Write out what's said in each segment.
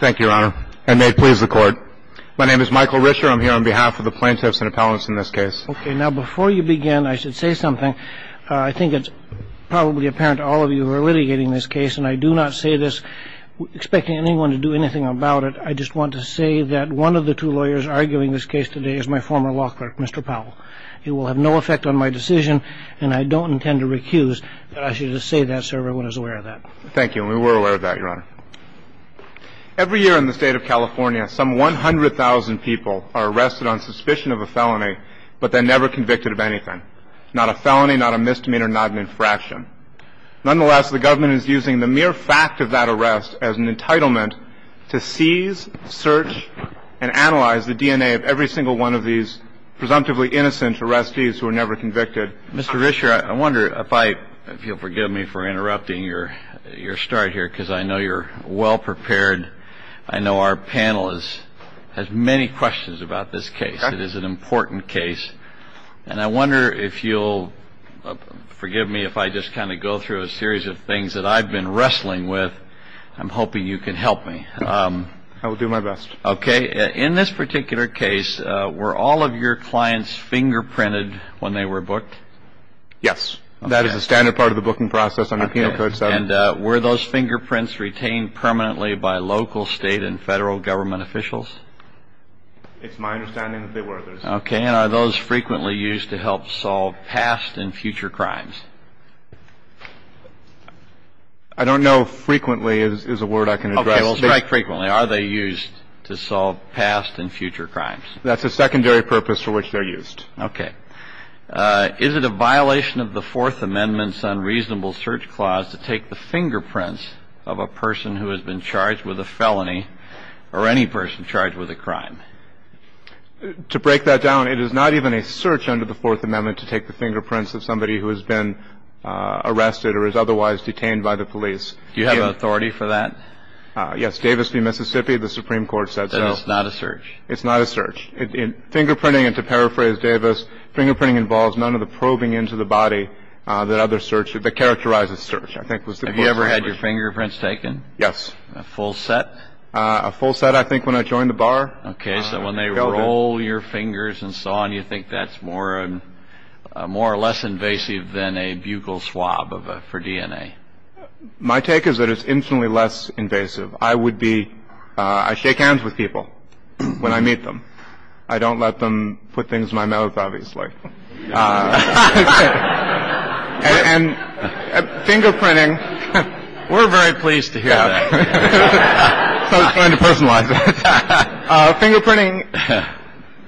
Thank you, Your Honor, and may it please the Court. My name is Michael Risher. I'm here on behalf of the plaintiffs and appellants in this case. Okay. Now, before you begin, I should say something. I think it's probably apparent to all of you who are litigating this case, and I do not say this expecting anyone to do anything about it. I just want to say that one of the two lawyers arguing this case today is my former law clerk, Mr. Powell. It will have no effect on my decision, and I don't intend to recuse, but I should just say that so everyone is aware of that. Thank you, and we were aware of that, Your Honor. Every year in the state of California, some 100,000 people are arrested on suspicion of a felony, but they're never convicted of anything. Not a felony, not a misdemeanor, not an infraction. Nonetheless, the government is using the mere fact of that arrest as an entitlement to seize, search, and analyze the DNA of every single one of these presumptively innocent arrestees who were never convicted. Mr. Risher, I wonder if you'll forgive me for interrupting your start here, because I know you're well prepared. I know our panel has many questions about this case. It is an important case, and I wonder if you'll forgive me if I just kind of go through a series of things that I've been wrestling with. I'm hoping you can help me. I will do my best. Okay, in this particular case, were all of your clients fingerprinted when they were booked? Yes. That is a standard part of the booking process under Penal Code 7. And were those fingerprints retained permanently by local, state, and federal government officials? It's my understanding that they were. Okay, and are those frequently used to help solve past and future crimes? I don't know if frequently is a word I can address. They will strike frequently. Are they used to solve past and future crimes? That's a secondary purpose for which they're used. Okay. Is it a violation of the Fourth Amendment's unreasonable search clause to take the fingerprints of a person who has been charged with a felony or any person charged with a crime? To break that down, it is not even a search under the Fourth Amendment to take the fingerprints of somebody who has been arrested or is otherwise detained by the police. Do you have authority for that? Yes. Davis v. Mississippi, the Supreme Court said so. Then it's not a search? It's not a search. Fingerprinting, and to paraphrase Davis, fingerprinting involves none of the probing into the body that characterizes search. Have you ever had your fingerprints taken? Yes. A full set? A full set, I think, when I joined the bar. Okay, so when they roll your fingers and so on, you think that's more or less invasive than a buccal swab for DNA? My take is that it's infinitely less invasive. I would be — I shake hands with people when I meet them. I don't let them put things in my mouth, obviously. And fingerprinting — We're very pleased to hear that. I was trying to personalize it. Fingerprinting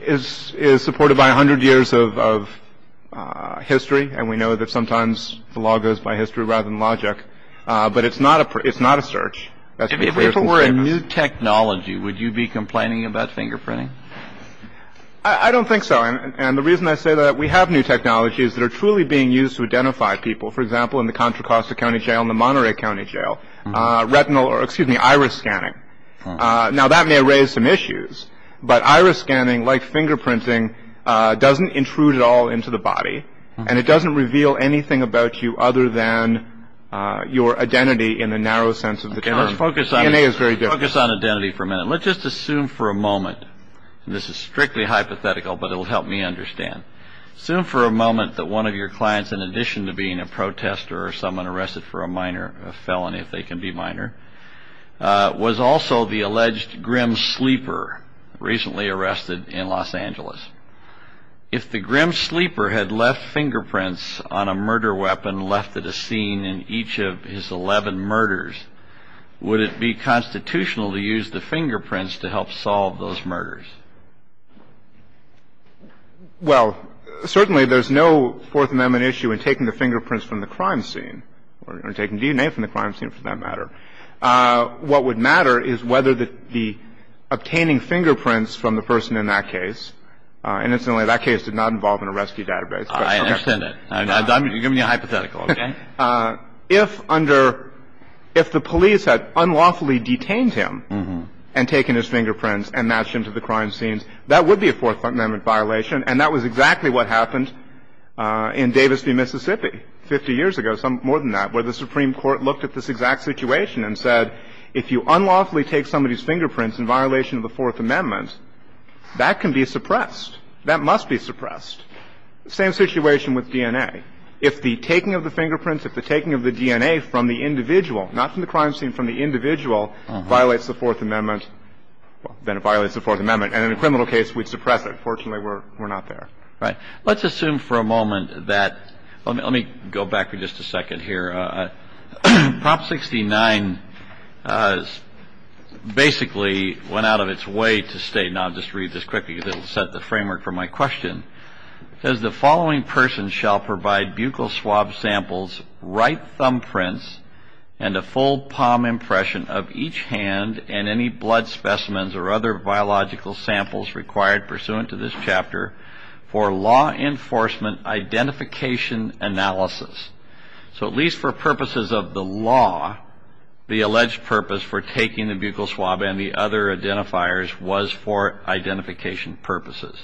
is supported by 100 years of history, and we know that sometimes the law goes by history rather than logic. But it's not a search. If it were a new technology, would you be complaining about fingerprinting? I don't think so. And the reason I say that, we have new technologies that are truly being used to identify people. For example, in the Contra Costa County Jail and the Monterey County Jail, retinal — or excuse me, iris scanning. Now, that may raise some issues, but iris scanning, like fingerprinting, doesn't intrude at all into the body, and it doesn't reveal anything about you other than your identity in the narrow sense of the term. Okay, let's focus on — DNA is very different. Let's focus on identity for a minute. Let's just assume for a moment — and this is strictly hypothetical, but it will help me understand. Assume for a moment that one of your clients, in addition to being a protester or someone arrested for a minor felony, if they can be minor, was also the alleged grim sleeper recently arrested in Los Angeles. If the grim sleeper had left fingerprints on a murder weapon left at a scene in each of his 11 murders, would it be constitutional to use the fingerprints to help solve those murders? Well, certainly there's no Fourth Amendment issue in taking the fingerprints from the crime scene or taking DNA from the crime scene, for that matter. What would matter is whether the obtaining fingerprints from the person in that case — and incidentally, that case did not involve an arrestee database. I understand that. I'm giving you a hypothetical, okay? If under — if the police had unlawfully detained him and taken his fingerprints and matched them to the crime scenes, that would be a Fourth Amendment violation, and that was exactly what happened in Davis v. Mississippi 50 years ago, more than that, where the Supreme Court looked at this exact situation and said, if you unlawfully take somebody's fingerprints in violation of the Fourth Amendment, that can be suppressed. That must be suppressed. Same situation with DNA. If the taking of the fingerprints, if the taking of the DNA from the individual, not from the crime scene, from the individual, violates the Fourth Amendment, then it violates the Fourth Amendment. And in a criminal case, we'd suppress it. Fortunately, we're not there. All right. Let's assume for a moment that — let me go back for just a second here. Prop 69 basically went out of its way to state — and I'll just read this quickly, because it will set the framework for my question. It says, And the following person shall provide buccal swab samples, right thumbprints, and a full palm impression of each hand and any blood specimens or other biological samples required pursuant to this chapter for law enforcement identification analysis. So at least for purposes of the law, the alleged purpose for taking the buccal swab and the other identifiers was for identification purposes.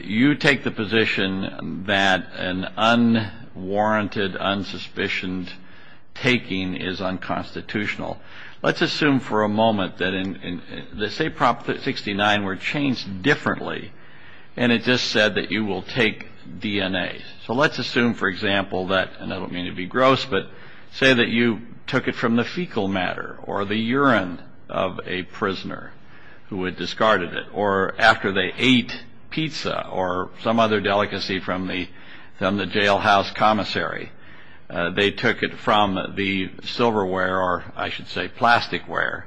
You take the position that an unwarranted, unsuspicioned taking is unconstitutional. Let's assume for a moment that — say Prop 69 were changed differently, and it just said that you will take DNA. So let's assume, for example, that — and I don't mean to be gross, but say that you took it from the fecal matter or the urine of a prisoner who had discarded it or after they ate pizza or some other delicacy from the jailhouse commissary. They took it from the silverware or, I should say, plasticware.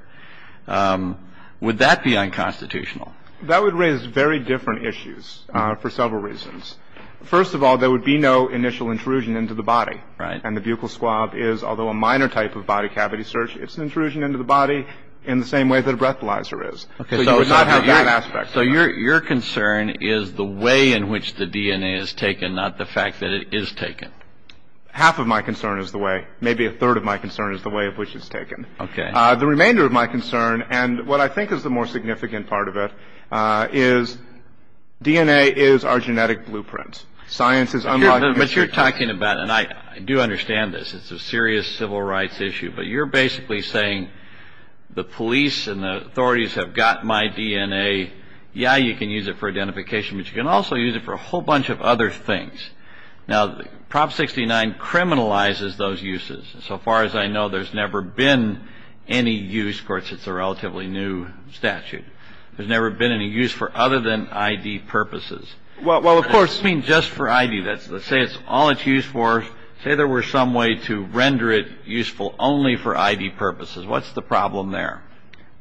Would that be unconstitutional? That would raise very different issues for several reasons. First of all, there would be no initial intrusion into the body. And the buccal swab is, although a minor type of body cavity search, it's an intrusion into the body in the same way that a breathalyzer is. So you would not have that aspect. So your concern is the way in which the DNA is taken, not the fact that it is taken. Half of my concern is the way. Maybe a third of my concern is the way in which it's taken. Okay. The remainder of my concern, and what I think is the more significant part of it, is DNA is our genetic blueprint. Science is — But you're talking about — and I do understand this. It's a serious civil rights issue. But you're basically saying the police and the authorities have got my DNA. Yeah, you can use it for identification, but you can also use it for a whole bunch of other things. Now, Prop 69 criminalizes those uses. So far as I know, there's never been any use. Of course, it's a relatively new statute. There's never been any use for other than ID purposes. Well, of course — I mean just for ID. Let's say it's all it's used for. Let's say there were some way to render it useful only for ID purposes. What's the problem there?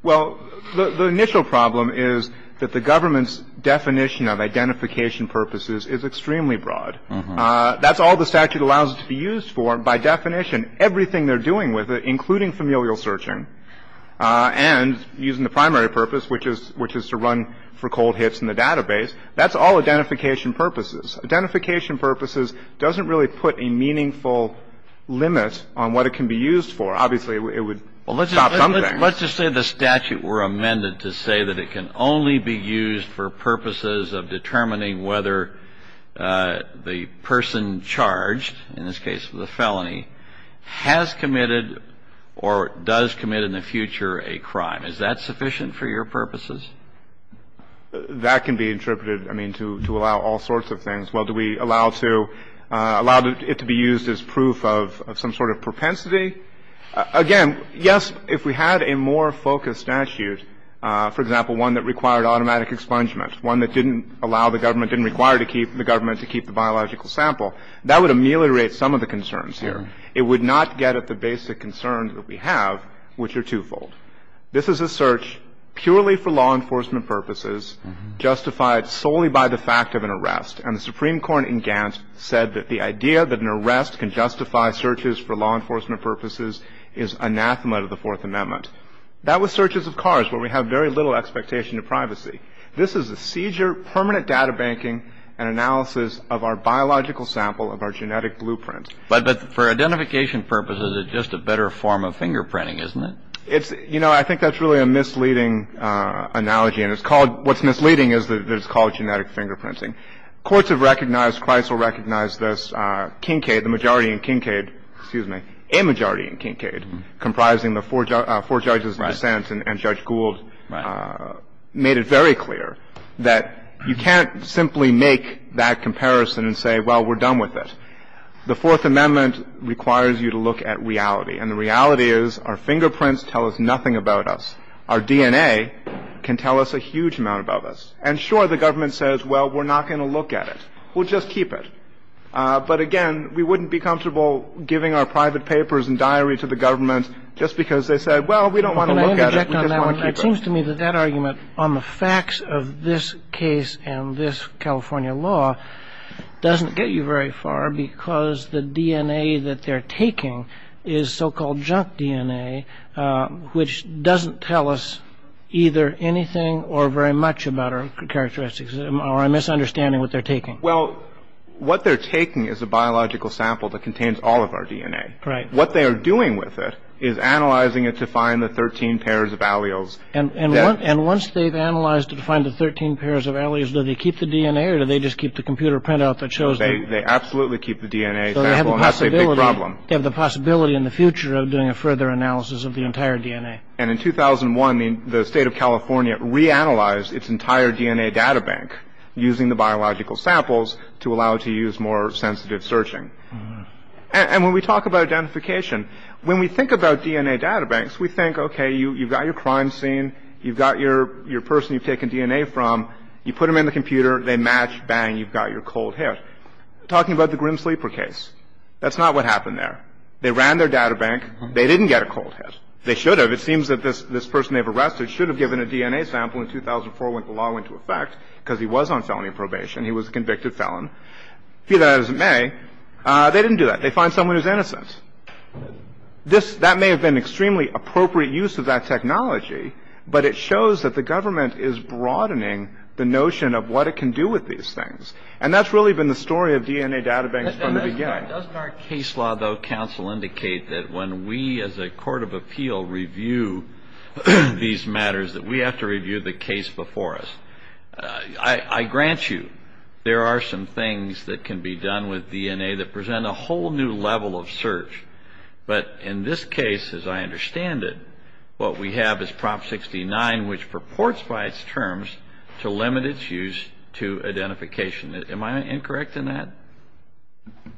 Well, the initial problem is that the government's definition of identification purposes is extremely broad. That's all the statute allows it to be used for. By definition, everything they're doing with it, including familial searching, and using the primary purpose, which is to run for cold hits in the database, that's all identification purposes. Identification purposes doesn't really put a meaningful limit on what it can be used for. Obviously, it would stop something. Well, let's just say the statute were amended to say that it can only be used for purposes of determining whether the person charged, in this case with a felony, has committed or does commit in the future a crime. Is that sufficient for your purposes? That can be interpreted, I mean, to allow all sorts of things. Well, do we allow it to be used as proof of some sort of propensity? Again, yes, if we had a more focused statute, for example, one that required automatic expungement, one that didn't allow the government, didn't require the government to keep the biological sample, that would ameliorate some of the concerns here. It would not get at the basic concerns that we have, which are twofold. This is a search purely for law enforcement purposes, justified solely by the fact of an arrest. And the Supreme Court in Gants said that the idea that an arrest can justify searches for law enforcement purposes is anathema to the Fourth Amendment. That was searches of cars, where we have very little expectation of privacy. This is a seizure, permanent data banking, and analysis of our biological sample of our genetic blueprint. But for identification purposes, it's just a better form of fingerprinting, isn't it? It's – you know, I think that's really a misleading analogy, and it's called – what's misleading is that it's called genetic fingerprinting. Courts have recognized – Chrysler recognized this. Kincaid, the majority in Kincaid – excuse me, a majority in Kincaid, comprising the four judges in dissent and Judge Gould, made it very clear that you can't simply make that comparison and say, well, we're done with it. The Fourth Amendment requires you to look at reality. And the reality is our fingerprints tell us nothing about us. Our DNA can tell us a huge amount about us. And sure, the government says, well, we're not going to look at it. We'll just keep it. But again, we wouldn't be comfortable giving our private papers and diary to the government just because they said, well, we don't want to look at it. We just want to keep it. Well, it seems to me that that argument on the facts of this case and this California law doesn't get you very far because the DNA that they're taking is so-called junk DNA, which doesn't tell us either anything or very much about our characteristics, or I'm misunderstanding what they're taking. Well, what they're taking is a biological sample that contains all of our DNA. Right. And what they are doing with it is analyzing it to find the 13 pairs of alleles. And once they've analyzed to find the 13 pairs of alleles, do they keep the DNA or do they just keep the computer printout that shows? They absolutely keep the DNA. That's a big problem. They have the possibility in the future of doing a further analysis of the entire DNA. And in 2001, the state of California reanalyzed its entire DNA databank using the biological samples to allow it to use more sensitive searching. And when we talk about identification, when we think about DNA databanks, we think, okay, you've got your crime scene, you've got your person you've taken DNA from, you put them in the computer, they match, bang, you've got your cold hit. Talking about the Grim Sleeper case, that's not what happened there. They ran their databank. They didn't get a cold hit. They should have. It seems that this person they've arrested should have given a DNA sample in 2004 when the law went into effect because he was on felony probation. He was a convicted felon. Be that as it may, they didn't do that. They find someone who's innocent. That may have been an extremely appropriate use of that technology, but it shows that the government is broadening the notion of what it can do with these things. And that's really been the story of DNA databanks from the beginning. Doesn't our case law, though, counsel, indicate that when we as a court of appeal review these matters, that we have to review the case before us? I grant you there are some things that can be done with DNA that present a whole new level of search. But in this case, as I understand it, what we have is Prop 69, which purports by its terms to limit its use to identification. Am I incorrect in that?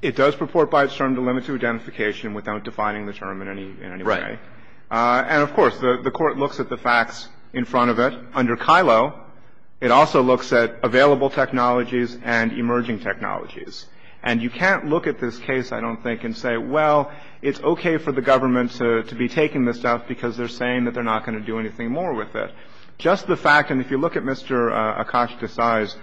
It does purport by its term to limit to identification without defining the term in any way. Right. And, of course, the Court looks at the facts in front of it. Under KILO, it also looks at available technologies and emerging technologies. And you can't look at this case, I don't think, and say, well, it's okay for the government to be taking this stuff because they're saying that they're not going to do anything more with it. Just the fact, and if you look at Mr. Akash Desai's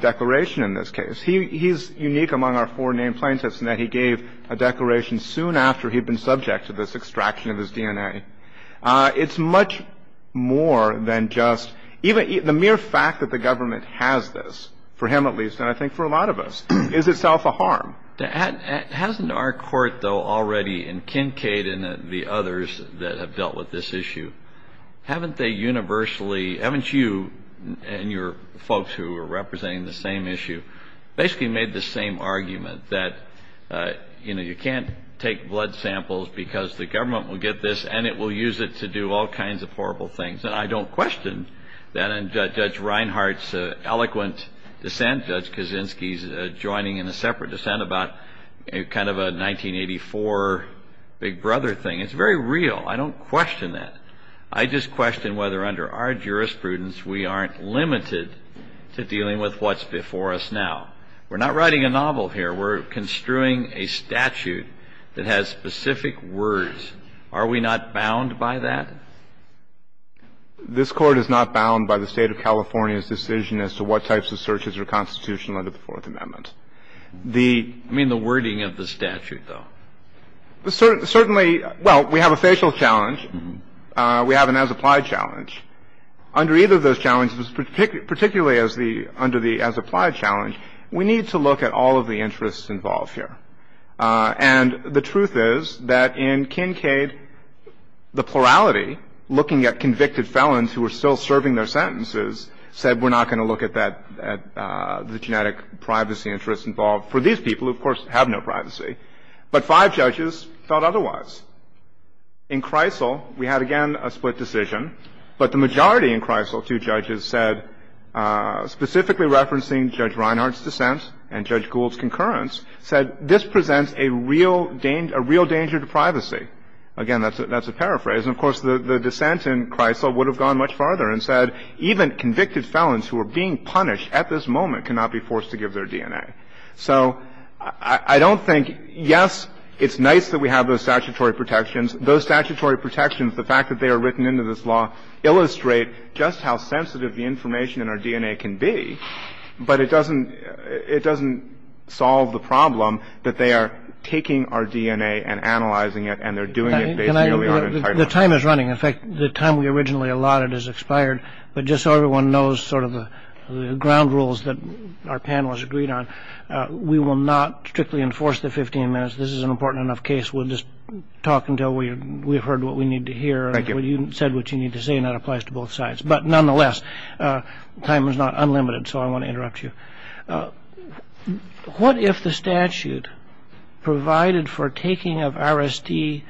declaration in this case, he's unique among our four named plaintiffs in that he gave a declaration soon after he'd been subject to this extraction of his DNA. It's much more than just even the mere fact that the government has this, for him at least, and I think for a lot of us, is itself a harm. Hasn't our court, though, already in Kincade and the others that have dealt with this issue, haven't they universally, haven't you and your folks who are representing the same issue, basically made the same argument that, you know, and it will use it to do all kinds of horrible things. And I don't question that. And Judge Reinhart's eloquent dissent, Judge Kaczynski's joining in a separate dissent about kind of a 1984 Big Brother thing. It's very real. I don't question that. I just question whether under our jurisprudence, we aren't limited to dealing with what's before us now. We're not writing a novel here. We're construing a statute that has specific words. Are we not bound by that? This Court is not bound by the State of California's decision as to what types of searches are constitutional under the Fourth Amendment. I mean the wording of the statute, though. Certainly, well, we have a facial challenge. We have an as-applied challenge. Under either of those challenges, particularly under the as-applied challenge, we need to look at all of the interests involved here. And the truth is that in Kincaid, the plurality, looking at convicted felons who are still serving their sentences, said we're not going to look at that, the genetic privacy interests involved for these people, who, of course, have no privacy. But five judges thought otherwise. In Kreisel, we had, again, a split decision. But the majority in Kreisel, two judges said, specifically referencing Judge Reinhart's dissent and Judge Gould's concurrence, said this presents a real danger to privacy. Again, that's a paraphrase. And, of course, the dissent in Kreisel would have gone much farther and said even convicted felons who are being punished at this moment cannot be forced to give their DNA. So I don't think yes, it's nice that we have those statutory protections. Those statutory protections, the fact that they are written into this law, illustrate just how sensitive the information in our DNA can be. But it doesn't it doesn't solve the problem that they are taking our DNA and analyzing it and they're doing it. The time is running. In fact, the time we originally allotted has expired. But just so everyone knows sort of the ground rules that our panelists agreed on, we will not strictly enforce the 15 minutes. This is an important enough case. We'll just talk until we've heard what we need to hear. You said what you need to say and that applies to both sides. But nonetheless, time is not unlimited. So I want to interrupt you. What if the statute provided for taking of RSD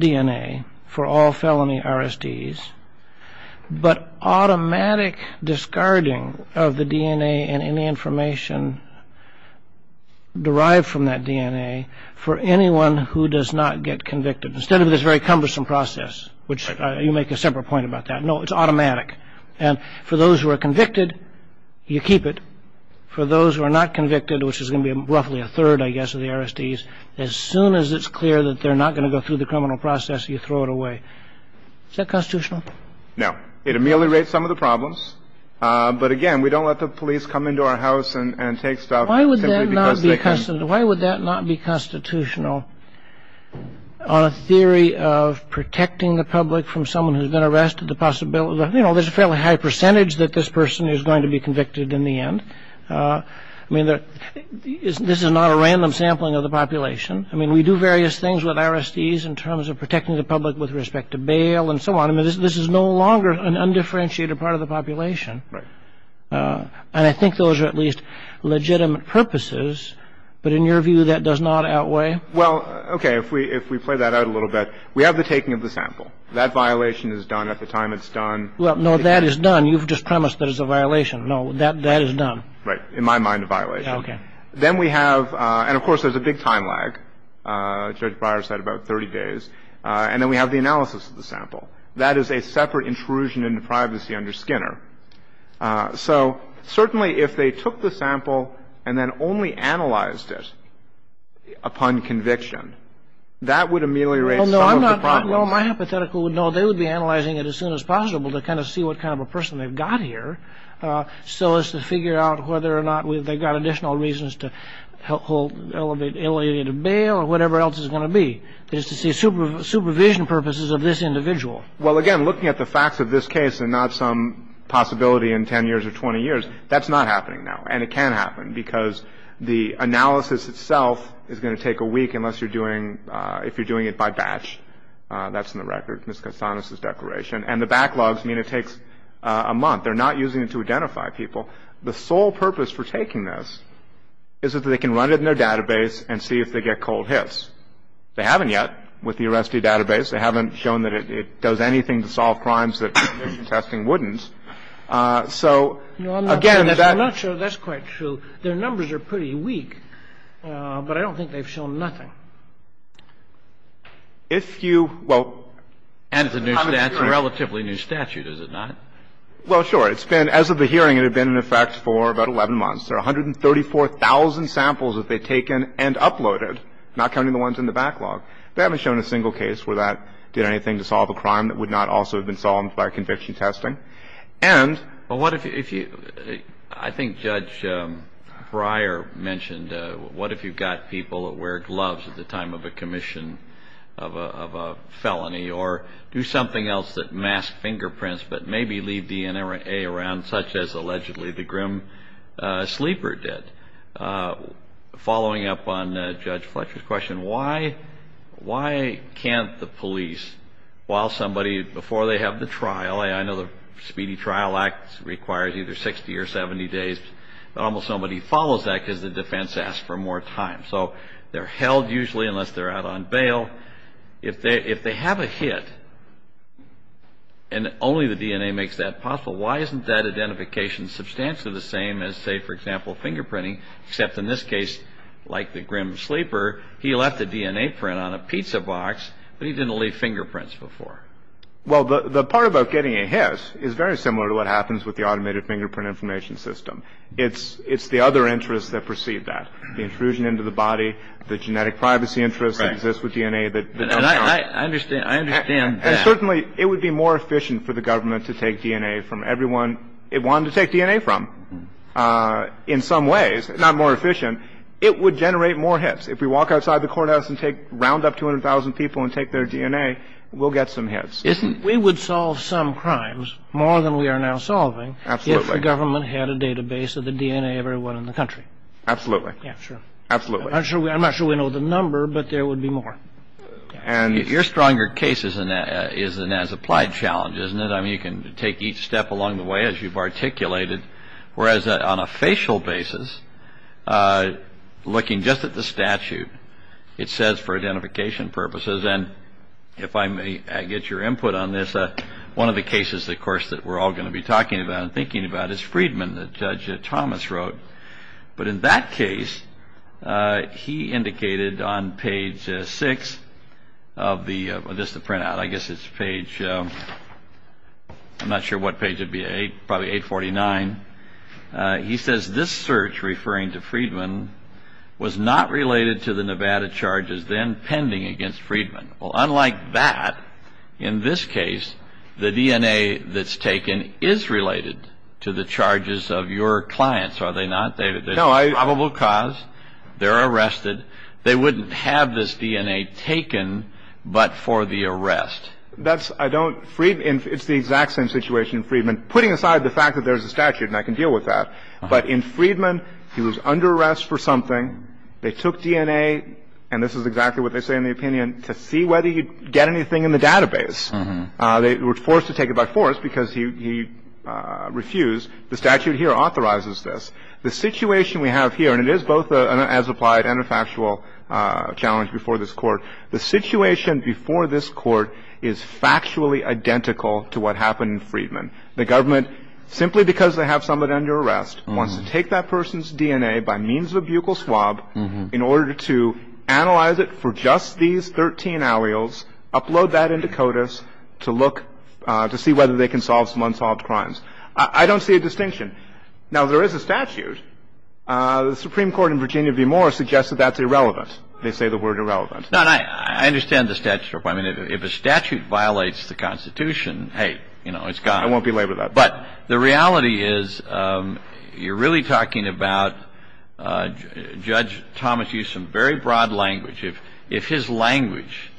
DNA for all felony RSDs, but automatic discarding of the DNA and any information derived from that DNA for anyone who does not get convicted, instead of this very cumbersome process, which you make a separate point about that. No, it's automatic. And for those who are convicted, you keep it. For those who are not convicted, which is going to be roughly a third, I guess, of the RSDs, as soon as it's clear that they're not going to go through the criminal process, you throw it away. Is that constitutional? No, it ameliorates some of the problems. But again, we don't let the police come into our house and take stuff. Why would that not be constitutional? On a theory of protecting the public from someone who's been arrested, the possibility, you know, there's a fairly high percentage that this person is going to be convicted in the end. I mean, this is not a random sampling of the population. I mean, we do various things with RSDs in terms of protecting the public with respect to bail and so on. I mean, this is no longer an undifferentiated part of the population. Right. And I think those are at least legitimate purposes. But in your view, that does not outweigh. Well, OK, if we if we play that out a little bit, we have the taking of the sample. That violation is done at the time it's done. Well, no, that is done. You've just promised that it's a violation. No, that that is done. Right. In my mind, a violation. Then we have. And of course, there's a big time lag. Well, that is a separate intrusion into privacy under Skinner. So certainly if they took the sample and then only analyzed it upon conviction, that would ameliorate. No, I'm not. No, my hypothetical would know they would be analyzing it as soon as possible to kind of see what kind of a person they've got here. So as to figure out whether or not they've got additional reasons to help elevate alienated bail or whatever else is going to be. It's not to say that there's any other reason to help elevate an alienated person. It's to say supervision purposes of this individual. Well, again, looking at the facts of this case and not some possibility in 10 years or 20 years, that's not happening now and it can happen because the analysis itself is going to take a week unless you're doing if you're doing it by batch. That's on the record. Mr. Cassanis, his declaration and the backlogs mean it takes a month. They're not using it to identify people. The sole purpose for taking this is if they can run it in their database and see if they get cold hits. They haven't yet with the arrestee database. They haven't shown that it does anything to solve crimes that testing wouldn't. So again, that's not sure that's quite true. There are numbers are pretty weak, but I don't think they've shown nothing. If you will. And it's a relatively new statute, is it not? Well, sure. It's been as of the hearing. It had been in effect for about 11 months. There are 134,000 samples that they've taken and uploaded, not counting the ones in the backlog. They haven't shown a single case where that did anything to solve a crime that would not also have been solved by conviction testing. I think Judge Breyer mentioned what if you've got people that wear gloves at the time of a commission of a felony or do something else that masks fingerprints but maybe leave DNA around, such as allegedly the grim sleeper did. Following up on Judge Fletcher's question, why can't the police, while somebody, before they have the trial, I know the Speedy Trial Act requires either 60 or 70 days, but almost nobody follows that because the defense asks for more time. So they're held usually unless they're out on bail. If they have a hit and only the DNA makes that possible, why isn't that identification substantially the same as, say, for example, fingerprinting, except in this case, like the grim sleeper, he left a DNA print on a pizza box, but he didn't leave fingerprints before? Well, the part about getting a hit is very similar to what happens with the automated fingerprint information system. It's the other interests that precede that, the intrusion into the body, the genetic privacy interest that exists with DNA. I understand. And certainly it would be more efficient for the government to take DNA from everyone it wanted to take DNA from. In some ways, not more efficient. It would generate more hits. If we walk outside the courthouse and round up 200,000 people and take their DNA, we'll get some hits. We would solve some crimes more than we are now solving if the government had a database of the DNA of everyone in the country. Absolutely. Yeah, sure. Absolutely. I'm not sure we know the number, but there would be more. And your stronger case is an as-applied challenge, isn't it? I mean, you can take each step along the way as you've articulated. Whereas on a facial basis, looking just at the statute, it says for identification purposes, and if I may get your input on this, one of the cases, of course, that we're all going to be talking about and thinking about is Friedman that Judge Thomas wrote. But in that case, he indicated on page six of the just the printout, I guess it's page. I'm not sure what page it would be. Probably 849. He says this search, referring to Friedman, was not related to the Nevada charges then pending against Friedman. Well, unlike that, in this case, the DNA that's taken is related to the charges of your clients, are they not? No. There's a probable cause. They're arrested. They wouldn't have this DNA taken but for the arrest. That's the exact same situation in Friedman, putting aside the fact that there's a statute and I can deal with that. But in Friedman, he was under arrest for something. They took DNA, and this is exactly what they say in the opinion, to see whether you'd get anything in the database. They were forced to take it by force because he refused. The statute here authorizes this. The situation we have here, and it is both an as-applied and a factual challenge before this Court. The situation before this Court is factually identical to what happened in Friedman. The government, simply because they have someone under arrest, wants to take that person's DNA by means of a buccal swab in order to analyze it for just these 13 alleles, upload that into CODIS to look to see whether they can solve some unsolved crimes. I don't see a distinction. Now, there is a statute. The Supreme Court in Virginia v. Moore suggested that's irrelevant. They say the word irrelevant. No, and I understand the statute. I mean, if a statute violates the Constitution, hey, you know, it's gone. I won't belabor that. But the reality is you're really talking about Judge Thomas used some very broad language. If his language,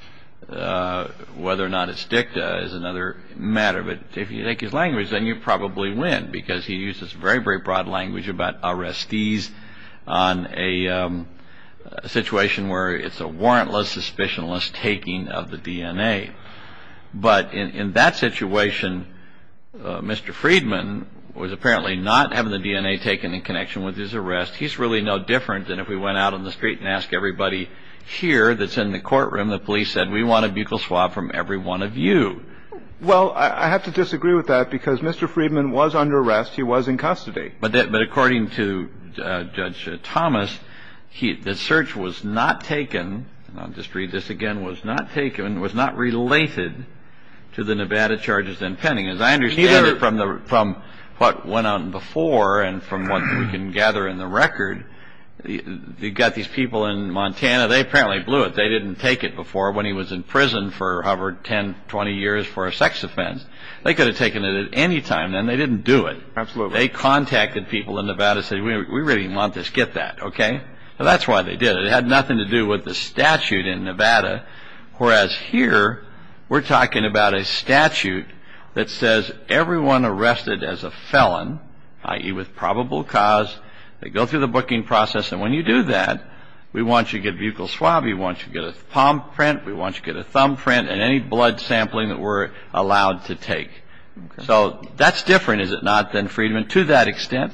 whether or not it's dicta, is another matter, but if you take his language, then you probably win, because he uses very, very broad language about arrestees on a situation where it's a warrantless, suspicionless taking of the DNA. But in that situation, Mr. Friedman was apparently not having the DNA taken in connection with his arrest. He's really no different than if we went out on the street and asked everybody here that's in the courtroom, the police said, we want a buccal swab from every one of you. Well, I have to disagree with that, because Mr. Friedman was under arrest. He was in custody. But according to Judge Thomas, the search was not taken, and I'll just read this again, was not taken, was not related to the Nevada charges in Penning. As I understand it from what went on before and from what we can gather in the record, you've got these people in Montana. They apparently blew it. They didn't take it before when he was in prison for over 10, 20 years for a sex offense. They could have taken it at any time, and they didn't do it. They contacted people in Nevada and said, we really want this. Get that, okay? That's why they did it. It had nothing to do with the statute in Nevada, whereas here we're talking about a statute that says everyone arrested as a felon, i.e. with probable cause, they go through the booking process, and when you do that, we want you to get buccal swab. We want you to get a palm print. We want you to get a thumb print and any blood sampling that we're allowed to take. So that's different, is it not, than Friedman, to that extent?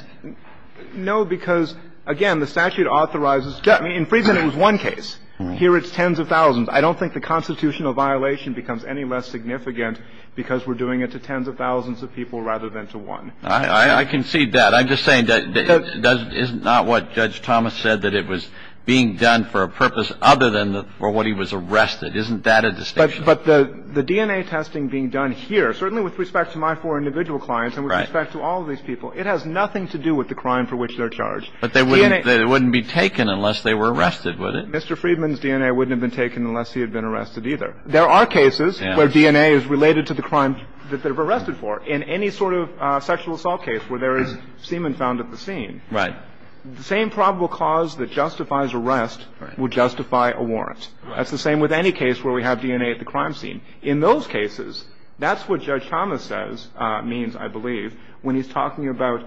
No, because, again, the statute authorizes. In Friedman, it was one case. Here it's tens of thousands. I don't think the constitutional violation becomes any less significant because we're doing it to tens of thousands of people rather than to one. I concede that. But I'm just saying that it's not what Judge Thomas said, that it was being done for a purpose other than for what he was arrested. Isn't that a distinction? But the DNA testing being done here, certainly with respect to my four individual clients and with respect to all of these people, it has nothing to do with the crime for which they're charged. But they wouldn't be taken unless they were arrested, would it? Mr. Friedman's DNA wouldn't have been taken unless he had been arrested either. There are cases where DNA is related to the crime that they're arrested for. In any sort of sexual assault case where there is semen found at the scene. Right. The same probable cause that justifies arrest would justify a warrant. That's the same with any case where we have DNA at the crime scene. In those cases, that's what Judge Thomas says means, I believe, when he's talking about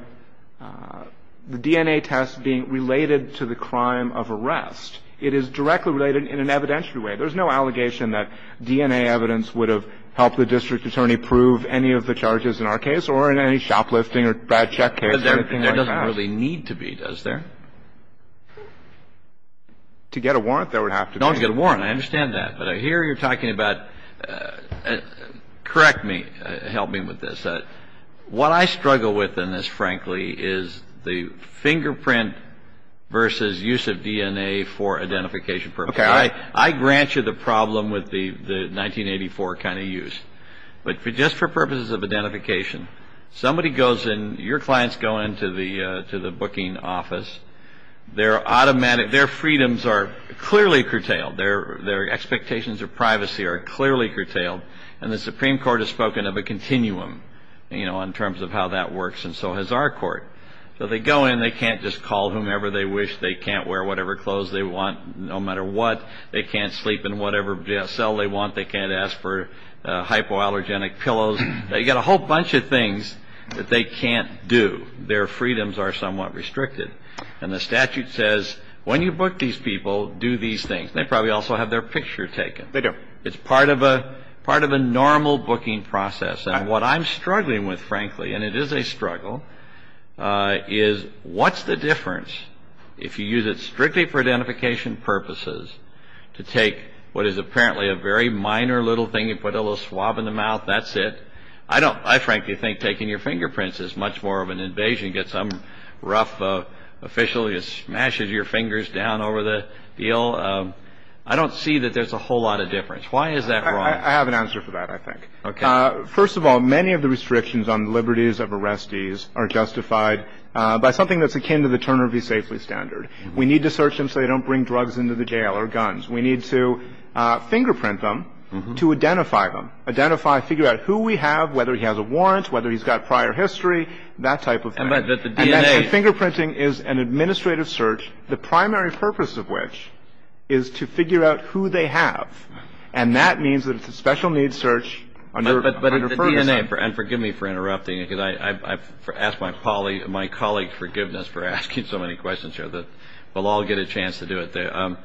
the DNA test being related to the crime of arrest. It is directly related in an evidentiary way. There's no allegation that DNA evidence would have helped the district attorney prove any of the charges in our case or in any shoplifting or bad check case or anything like that. There doesn't really need to be, does there? To get a warrant, there would have to be. No, to get a warrant. I understand that. But I hear you're talking about, correct me, help me with this. What I struggle with in this, frankly, is the fingerprint versus use of DNA for identification purposes. I grant you the problem with the 1984 kind of use. But just for purposes of identification, somebody goes in, your clients go into the booking office, their freedoms are clearly curtailed, their expectations of privacy are clearly curtailed, and the Supreme Court has spoken of a continuum in terms of how that works, and so has our court. So they go in. They can't just call whomever they wish. They can't wear whatever clothes they want no matter what. They can't sleep in whatever cell they want. They can't ask for hypoallergenic pillows. They've got a whole bunch of things that they can't do. Their freedoms are somewhat restricted. And the statute says when you book these people, do these things. They probably also have their picture taken. They do. It's part of a normal booking process. And what I'm struggling with, frankly, and it is a struggle, is what's the difference if you use it strictly for identification purposes to take what is apparently a very minor little thing, you put a little swab in the mouth, that's it? I frankly think taking your fingerprints is much more of an invasion. You get some rough official who smashes your fingers down over the deal. I don't see that there's a whole lot of difference. Why is that wrong? I have an answer for that, I think. First of all, many of the restrictions on liberties of arrestees are justified by something that's akin to the Turner v. Safely standard. We need to search them so they don't bring drugs into the jail or guns. We need to fingerprint them to identify them, identify, figure out who we have, whether he has a warrant, whether he's got prior history, that type of thing. Fingerprinting is an administrative search, the primary purpose of which is to figure out who they have. And that means that it's a special needs search under Ferguson. And forgive me for interrupting, because I've asked my colleague forgiveness for asking so many questions here. We'll all get a chance to do it.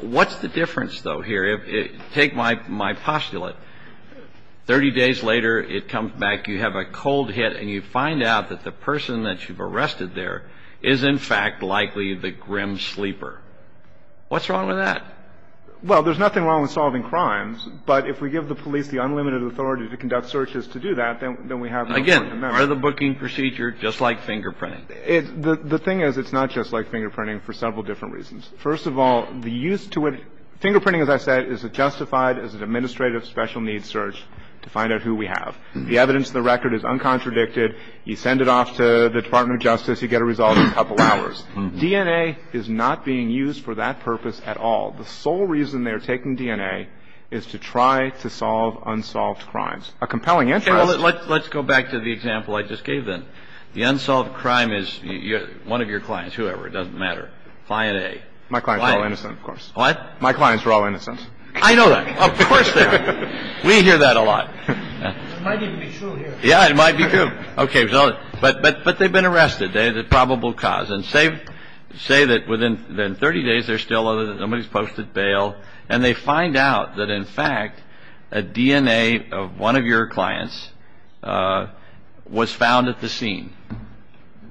What's the difference, though, here? Take my postulate. Thirty days later, it comes back, you have a cold hit, and you find out that the person that you've arrested there is, in fact, likely the grim sleeper. What's wrong with that? Well, there's nothing wrong with solving crimes. But if we give the police the unlimited authority to conduct searches to do that, then we have no point in that. Again, part of the booking procedure, just like fingerprinting. The thing is, it's not just like fingerprinting for several different reasons. First of all, the use to it, fingerprinting, as I said, is justified as an administrative special needs search to find out who we have. The evidence in the record is uncontradicted. You send it off to the Department of Justice. You get a result in a couple hours. DNA is not being used for that purpose at all. The sole reason they are taking DNA is to try to solve unsolved crimes. A compelling interest. Let's go back to the example I just gave them. The unsolved crime is one of your clients, whoever, it doesn't matter, client A. My clients are all innocent, of course. What? My clients are all innocent. I know that. Of course they are. We hear that a lot. It might even be true here. Yeah, it might be true. Okay. But they've been arrested. They're the probable cause. And say that within 30 days they're still, nobody's posted bail. And they find out that, in fact, a DNA of one of your clients was found at the scene.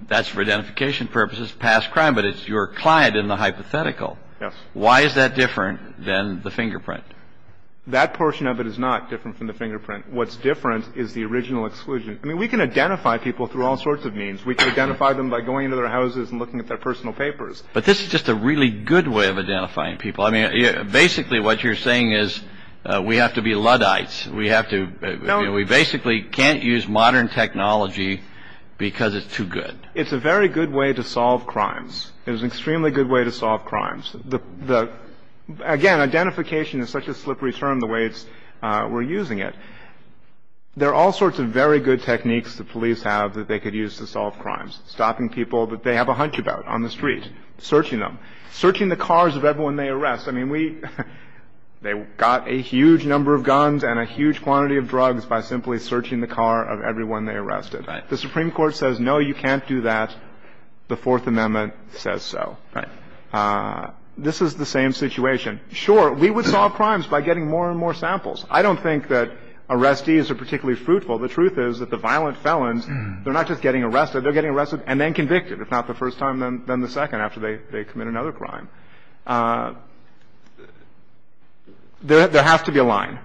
That's for identification purposes, past crime. But it's your client in the hypothetical. Yes. Why is that different than the fingerprint? That portion of it is not different from the fingerprint. What's different is the original exclusion. I mean, we can identify people through all sorts of means. We can identify them by going into their houses and looking at their personal papers. But this is just a really good way of identifying people. I mean, basically what you're saying is we have to be Luddites. We have to, you know, we basically can't use modern technology because it's too good. It's a very good way to solve crimes. It is an extremely good way to solve crimes. Again, identification is such a slippery term the way we're using it. There are all sorts of very good techniques the police have that they could use to solve crimes, stopping people that they have a hunch about on the street, searching them, searching the cars of everyone they arrest. I mean, we got a huge number of guns and a huge quantity of drugs by simply searching the car of everyone they arrested. The Supreme Court says, no, you can't do that. The Fourth Amendment says so. Right. This is the same situation. Sure, we would solve crimes by getting more and more samples. I don't think that arrestees are particularly fruitful. The truth is that the violent felons, they're not just getting arrested. They're getting arrested and then convicted, if not the first time, then the second after they commit another crime. There has to be a line.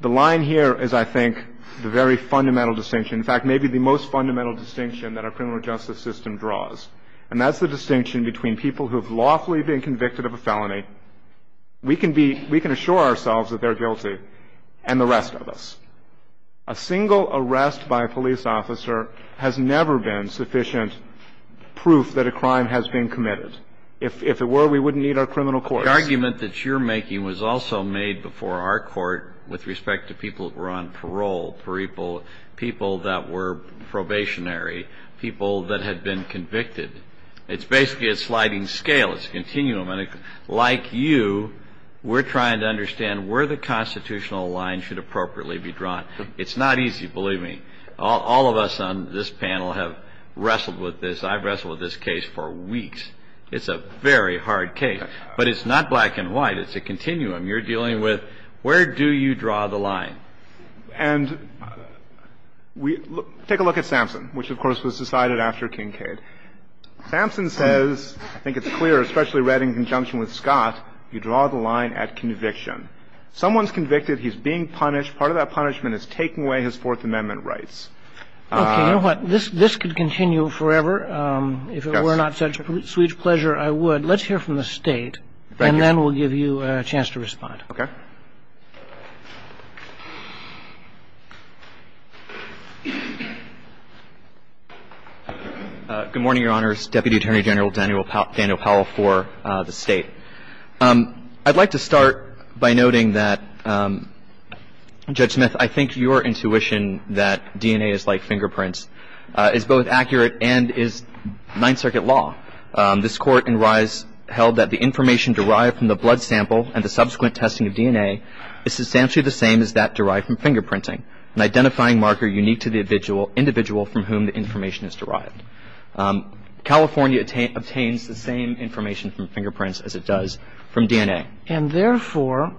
The line here is, I think, the very fundamental distinction. In fact, maybe the most fundamental distinction that our criminal justice system draws, and that's the distinction between people who have lawfully been convicted of a felony. We can assure ourselves that they're guilty and the rest of us. A single arrest by a police officer has never been sufficient proof that a crime has been committed. If it were, we wouldn't need our criminal courts. The argument that you're making was also made before our court with respect to people who were on parole, people that were probationary, people that had been convicted. It's basically a sliding scale. It's a continuum. And like you, we're trying to understand where the constitutional line should appropriately be drawn. It's not easy, believe me. All of us on this panel have wrestled with this. I've wrestled with this case for weeks. It's a very hard case. But it's not black and white. It's a continuum. You're dealing with where do you draw the line. And take a look at Sampson, which, of course, was decided after Kincaid. Sampson says, I think it's clear, especially read in conjunction with Scott, you draw the line at conviction. Someone's convicted. He's being punished. Part of that punishment is taking away his Fourth Amendment rights. Okay. You know what? This could continue forever. Yes. If it were not such sweet pleasure, I would. Let's hear from the State. Thank you. And then we'll give you a chance to respond. Okay. Good morning, Your Honors. Deputy Attorney General Daniel Powell for the State. I'd like to start by noting that, Judge Smith, I think your intuition that DNA is like fingerprints is both accurate and is Ninth Circuit law. This Court in Reyes held that the information derived from the blood sample and the subsequent testing of DNA is substantially the same as that derived from fingerprinting, an identifying marker unique to the individual from whom the information is derived. California obtains the same information from fingerprints as it does from DNA. And therefore,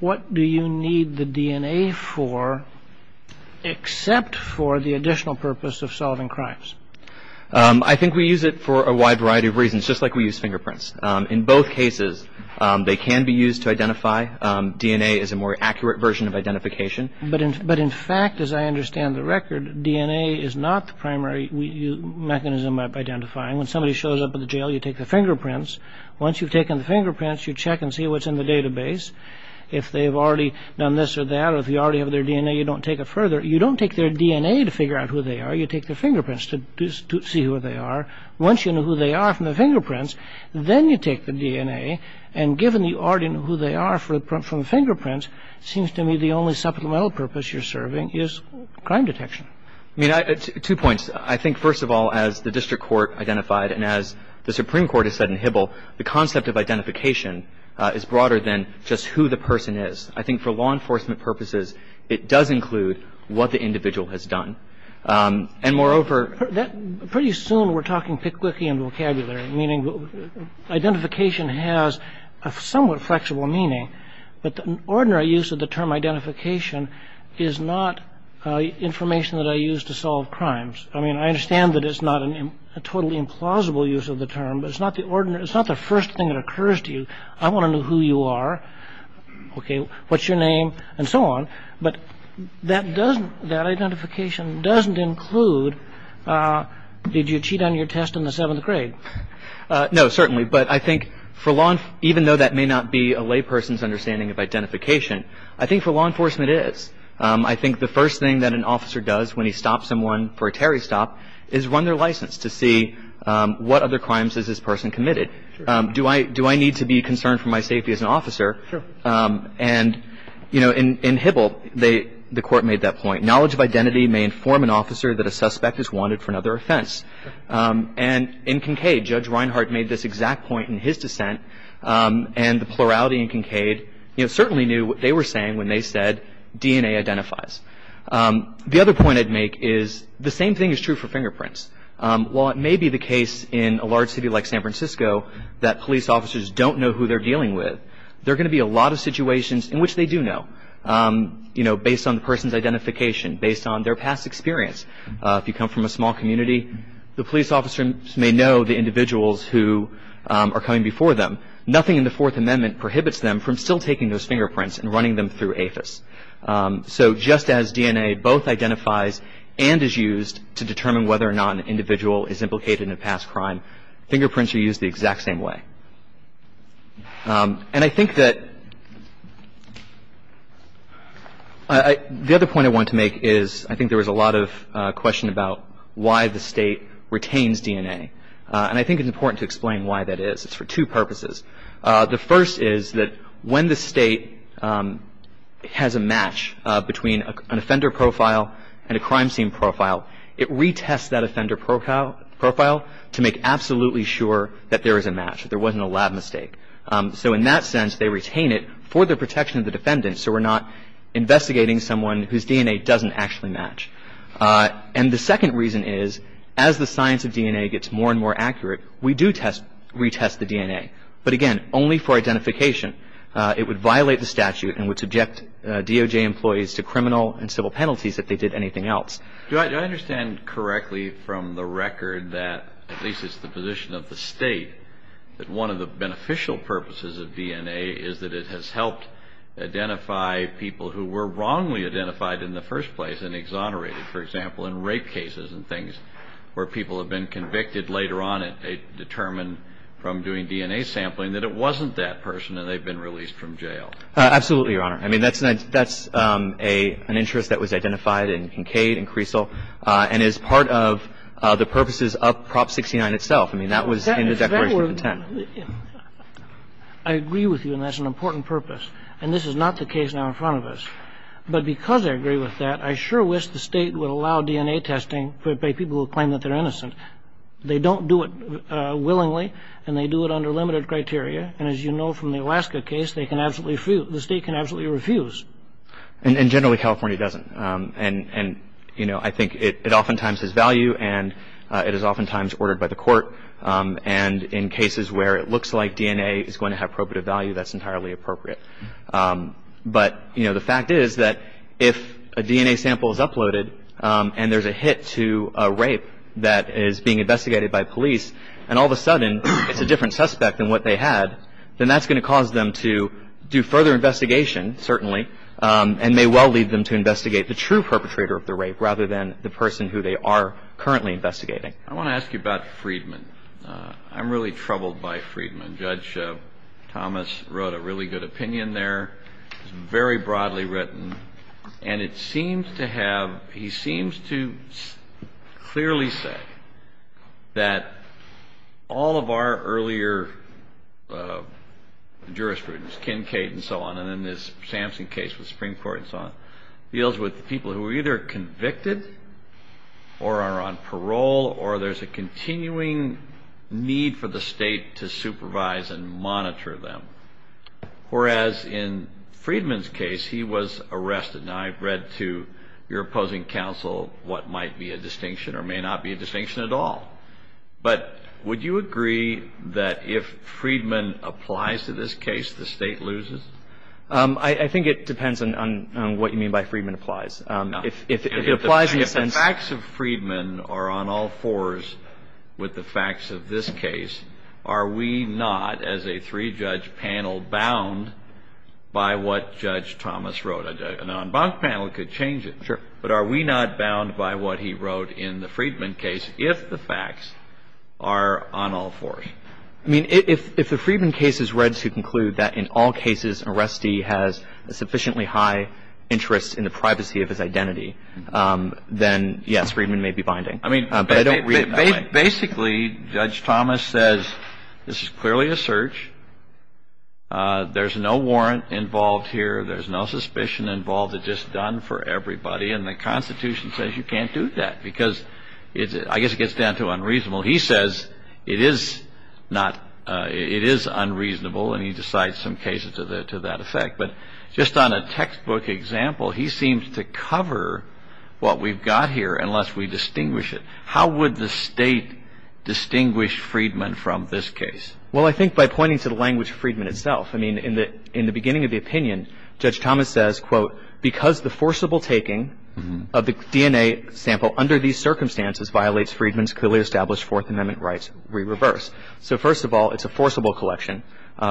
what do you need the DNA for except for the additional purpose of solving crimes? I think we use it for a wide variety of reasons, just like we use fingerprints. In both cases, they can be used to identify. DNA is a more accurate version of identification. But in fact, as I understand the record, DNA is not the primary mechanism of identifying. When somebody shows up at the jail, you take their fingerprints. Once you've taken the fingerprints, you check and see what's in the database. If they've already done this or that or if you already have their DNA, you don't take it further. You don't take their DNA to figure out who they are. You take their fingerprints to see who they are. Once you know who they are from the fingerprints, then you take the DNA. And given you already know who they are from the fingerprints, it seems to me the only supplemental purpose you're serving is crime detection. I mean, two points. I think, first of all, as the district court identified and as the Supreme Court has said in Hibble, the concept of identification is broader than just who the person is. I think for law enforcement purposes, it does include what the individual has done. And moreover, that pretty soon we're talking Pickwickian vocabulary, meaning identification has a somewhat flexible meaning. But the ordinary use of the term identification is not information that I use to solve crimes. I mean, I understand that it's not a totally implausible use of the term, but it's not the ordinary. It's not the first thing that occurs to you. I want to know who you are. OK, what's your name and so on. But that doesn't that identification doesn't include. Did you cheat on your test in the seventh grade? No, certainly. But I think for law, even though that may not be a lay person's understanding of identification, I think for law enforcement is I think the first thing that an officer does when he stops someone for a Terry stop is run their license to see what other crimes is this person committed. Do I do I need to be concerned for my safety as an officer? Sure. And, you know, in Hybl, they the court made that point. Knowledge of identity may inform an officer that a suspect is wanted for another offense. And in Kincaid, Judge Reinhart made this exact point in his dissent. And the plurality in Kincaid certainly knew what they were saying when they said DNA identifies. The other point I'd make is the same thing is true for fingerprints. While it may be the case in a large city like San Francisco that police officers don't know who they're dealing with, there are going to be a lot of situations in which they do know, you know, based on the person's identification, based on their past experience. If you come from a small community, the police officers may know the individuals who are coming before them. Nothing in the Fourth Amendment prohibits them from still taking those fingerprints and running them through APHIS. So just as DNA both identifies and is used to determine whether or not an individual is implicated in a past crime, fingerprints are used the exact same way. And I think that the other point I want to make is I think there was a lot of question about why the State retains DNA. And I think it's important to explain why that is. It's for two purposes. The first is that when the State has a match between an offender profile and a crime scene profile, it retests that offender profile to make absolutely sure that there is a match, that there wasn't a lab mistake. So in that sense, they retain it for the protection of the defendant so we're not investigating someone whose DNA doesn't actually match. And the second reason is as the science of DNA gets more and more accurate, we do retest the DNA. But again, only for identification. It would violate the statute and would subject DOJ employees to criminal and civil penalties if they did anything else. Do I understand correctly from the record that at least it's the position of the State that one of the beneficial purposes of DNA is that it has helped identify people who were wrongly identified in the first place and exonerated, for example, in rape cases and things where people have been convicted later on and determined from doing DNA sampling that it wasn't that person and they've been released from jail? Absolutely, Your Honor. I mean, that's an interest that was identified in Kincaid and Creasle and is part of the purposes of Prop 69 itself. I mean, that was in the Declaration of Intent. I agree with you and that's an important purpose. And this is not the case now in front of us. But because I agree with that, I sure wish the State would allow DNA testing for people who claim that they're innocent. They don't do it willingly and they do it under limited criteria. And as you know from the Alaska case, the State can absolutely refuse. And generally California doesn't. And, you know, I think it oftentimes has value and it is oftentimes ordered by the court. And in cases where it looks like DNA is going to have probative value, that's entirely appropriate. But, you know, the fact is that if a DNA sample is uploaded and there's a hit to a rape that is being investigated by police and all of a sudden it's a different suspect than what they had, then that's going to cause them to do further investigation, certainly, and may well lead them to investigate the true perpetrator of the rape rather than the person who they are currently investigating. I want to ask you about Friedman. I'm really troubled by Friedman. Judge Thomas wrote a really good opinion there. It's very broadly written. And it seems to have, he seems to clearly say that all of our earlier jurisprudence, Kincaid and so on, and then this Samson case with the Supreme Court and so on, deals with people who are either convicted or are on parole or there's a continuing need for the State to supervise and monitor them. Whereas in Friedman's case, he was arrested. Now, I've read to your opposing counsel what might be a distinction or may not be a distinction at all. But would you agree that if Friedman applies to this case, the State loses? I think it depends on what you mean by Friedman applies. If the facts of Friedman are on all fours with the facts of this case, are we not as a three-judge panel bound by what Judge Thomas wrote? An en banc panel could change it. Sure. But are we not bound by what he wrote in the Friedman case if the facts are on all fours? I mean, if the Friedman case is read to conclude that in all cases, an arrestee has a sufficiently high interest in the privacy of his identity, then, yes, Friedman may be binding. But I don't read it that way. Basically, Judge Thomas says this is clearly a search. There's no warrant involved here. There's no suspicion involved. It's just done for everybody. And the Constitution says you can't do that because I guess it gets down to unreasonable. He says it is unreasonable, and he decides some cases to that effect. But just on a textbook example, he seems to cover what we've got here unless we distinguish it. How would the State distinguish Friedman from this case? Well, I think by pointing to the language of Friedman itself. I mean, in the beginning of the opinion, Judge Thomas says, quote, Because the forcible taking of the DNA sample under these circumstances violates Friedman's clearly established Fourth Amendment rights, we reverse. So, first of all, it's a forcible collection,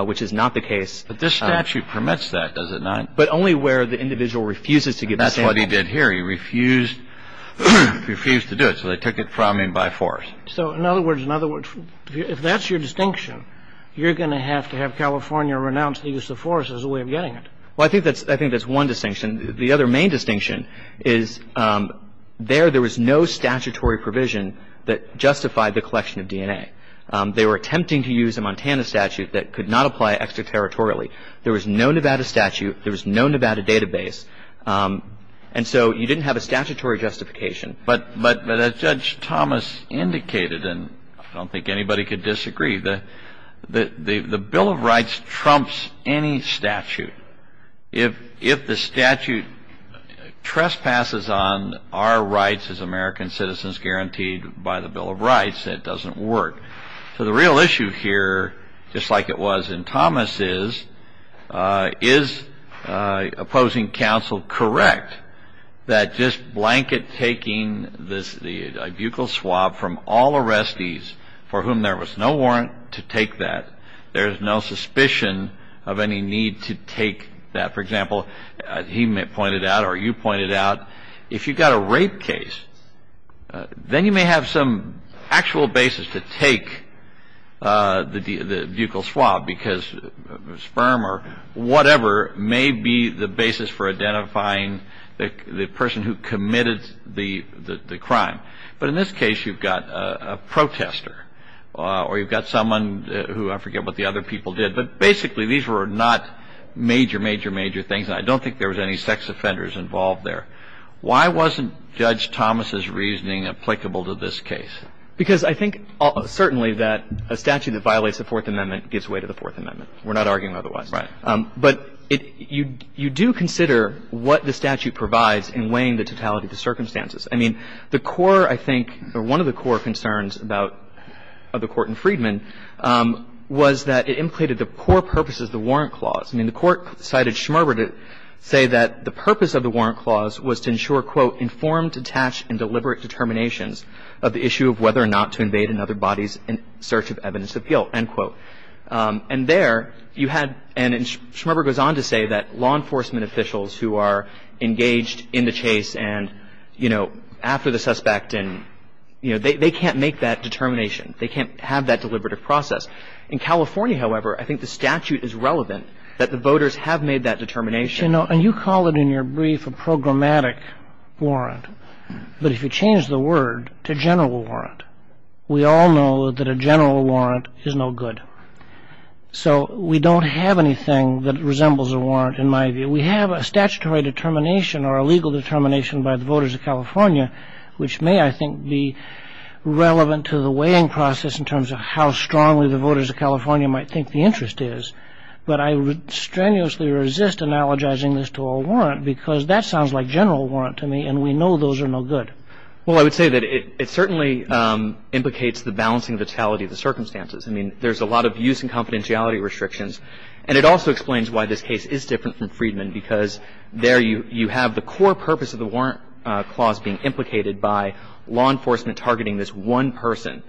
which is not the case. But this statute permits that, does it not? But only where the individual refuses to give the sample. And that's what he did here. He refused to do it, so they took it from him by force. So, in other words, if that's your distinction, you're going to have to have California renounce the use of force as a way of getting it. Well, I think that's one distinction. The other main distinction is there there was no statutory provision that justified the collection of DNA. They were attempting to use a Montana statute that could not apply extraterritorially. There was no Nevada statute. There was no Nevada database. And so you didn't have a statutory justification. But as Judge Thomas indicated, and I don't think anybody could disagree, the Bill of Rights trumps any statute. If the statute trespasses on our rights as American citizens guaranteed by the Bill of Rights, it doesn't work. So the real issue here, just like it was in Thomas's, is opposing counsel correct that just blanket taking the buccal swab from all arrestees for whom there was no warrant to take that, there's no suspicion of any need to take that? For example, he pointed out, or you pointed out, if you've got a rape case, then you may have some actual basis to take the buccal swab, because sperm or whatever may be the basis for identifying the person who committed the crime. But in this case, you've got a protester, or you've got someone who, I forget what the other people did, but basically these were not major, major, major things. And I don't think there was any sex offenders involved there. Why wasn't Judge Thomas's reasoning applicable to this case? Because I think certainly that a statute that violates the Fourth Amendment gives way to the Fourth Amendment. We're not arguing otherwise. Right. But you do consider what the statute provides in weighing the totality of the circumstances. I mean, the core, I think, or one of the core concerns about the Court in Freedman was that it implated the core purposes of the warrant clause. I mean, the Court cited Schmerber to say that the purpose of the warrant clause was to ensure, quote, informed, detached, and deliberate determinations of the issue of whether or not to invade another body's search of evidence appeal, end quote. And there you had, and Schmerber goes on to say that law enforcement officials who are engaged in the chase and, you know, after the suspect and, you know, they can't make that determination. They can't have that deliberative process. In California, however, I think the statute is relevant that the voters have made that determination. You know, and you call it in your brief a programmatic warrant. But if you change the word to general warrant, we all know that a general warrant is no good. So we don't have anything that resembles a warrant in my view. We have a statutory determination or a legal determination by the voters of California, which may, I think, be relevant to the weighing process in terms of how strongly the voters of California might think the interest is. But I strenuously resist analogizing this to a warrant because that sounds like general warrant to me, and we know those are no good. Well, I would say that it certainly implicates the balancing vitality of the circumstances. I mean, there's a lot of use and confidentiality restrictions. And it also explains why this case is different from Friedman because there you have the core purpose of the warrant clause being implicated by law enforcement targeting this one person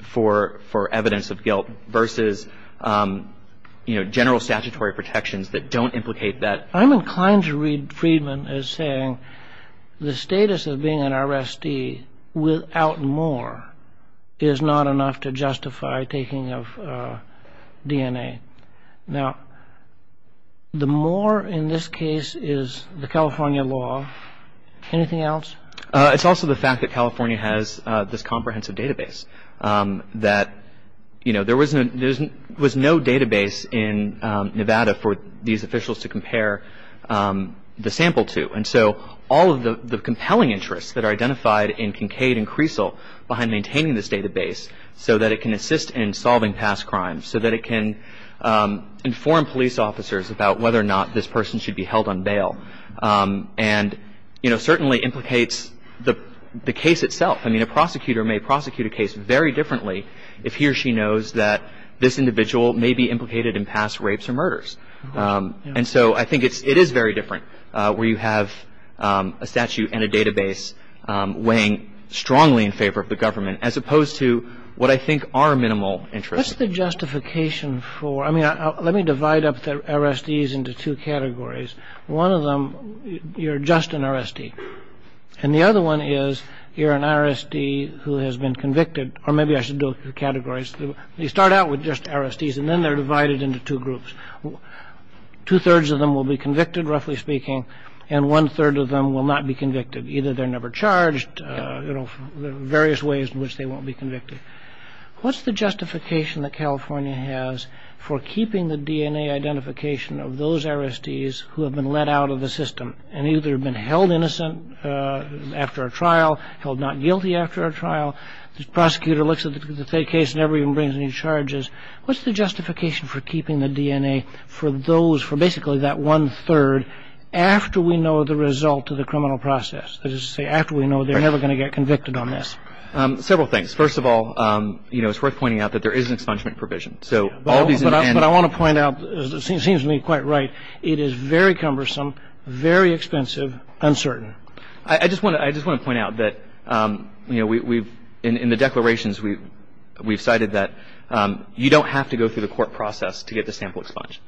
for evidence of guilt versus, you know, general statutory protections that don't implicate that. I'm inclined to read Friedman as saying the status of being an RSD without more is not enough to justify taking of DNA. Now, the more in this case is the California law. Anything else? It's also the fact that California has this comprehensive database that, you know, there was no database in Nevada for these officials to compare the sample to. And so all of the compelling interests that are identified in Kincaid and Creasle behind maintaining this database so that it can assist in solving past crimes, so that it can inform police officers about whether or not this person should be held on bail. And, you know, certainly implicates the case itself. I mean, a prosecutor may prosecute a case very differently if he or she knows that this individual may be implicated in past rapes or murders. And so I think it is very different where you have a statute and a database weighing strongly in favor of the government, as opposed to what I think are minimal interests. What's the justification for – I mean, let me divide up the RSDs into two categories. One of them, you're just an RSD. And the other one is you're an RSD who has been convicted. Or maybe I should do categories. You start out with just RSDs, and then they're divided into two groups. Two-thirds of them will be convicted, roughly speaking, and one-third of them will not be convicted. Either they're never charged, you know, various ways in which they won't be convicted. What's the justification that California has for keeping the DNA identification of those RSDs who have been let out of the system and either have been held innocent after a trial, held not guilty after a trial? The prosecutor looks at the case and never even brings any charges. What's the justification for keeping the DNA for those – for basically that one-third after we know the result of the criminal process, that is to say after we know they're never going to get convicted on this? Several things. First of all, you know, it's worth pointing out that there is an expungement provision. So all these – But I want to point out, it seems to me quite right, it is very cumbersome, very expensive, uncertain. I just want to – I just want to point out that, you know, we've – in the declarations, we've cited that you don't have to go through the court process to get the sample expunged.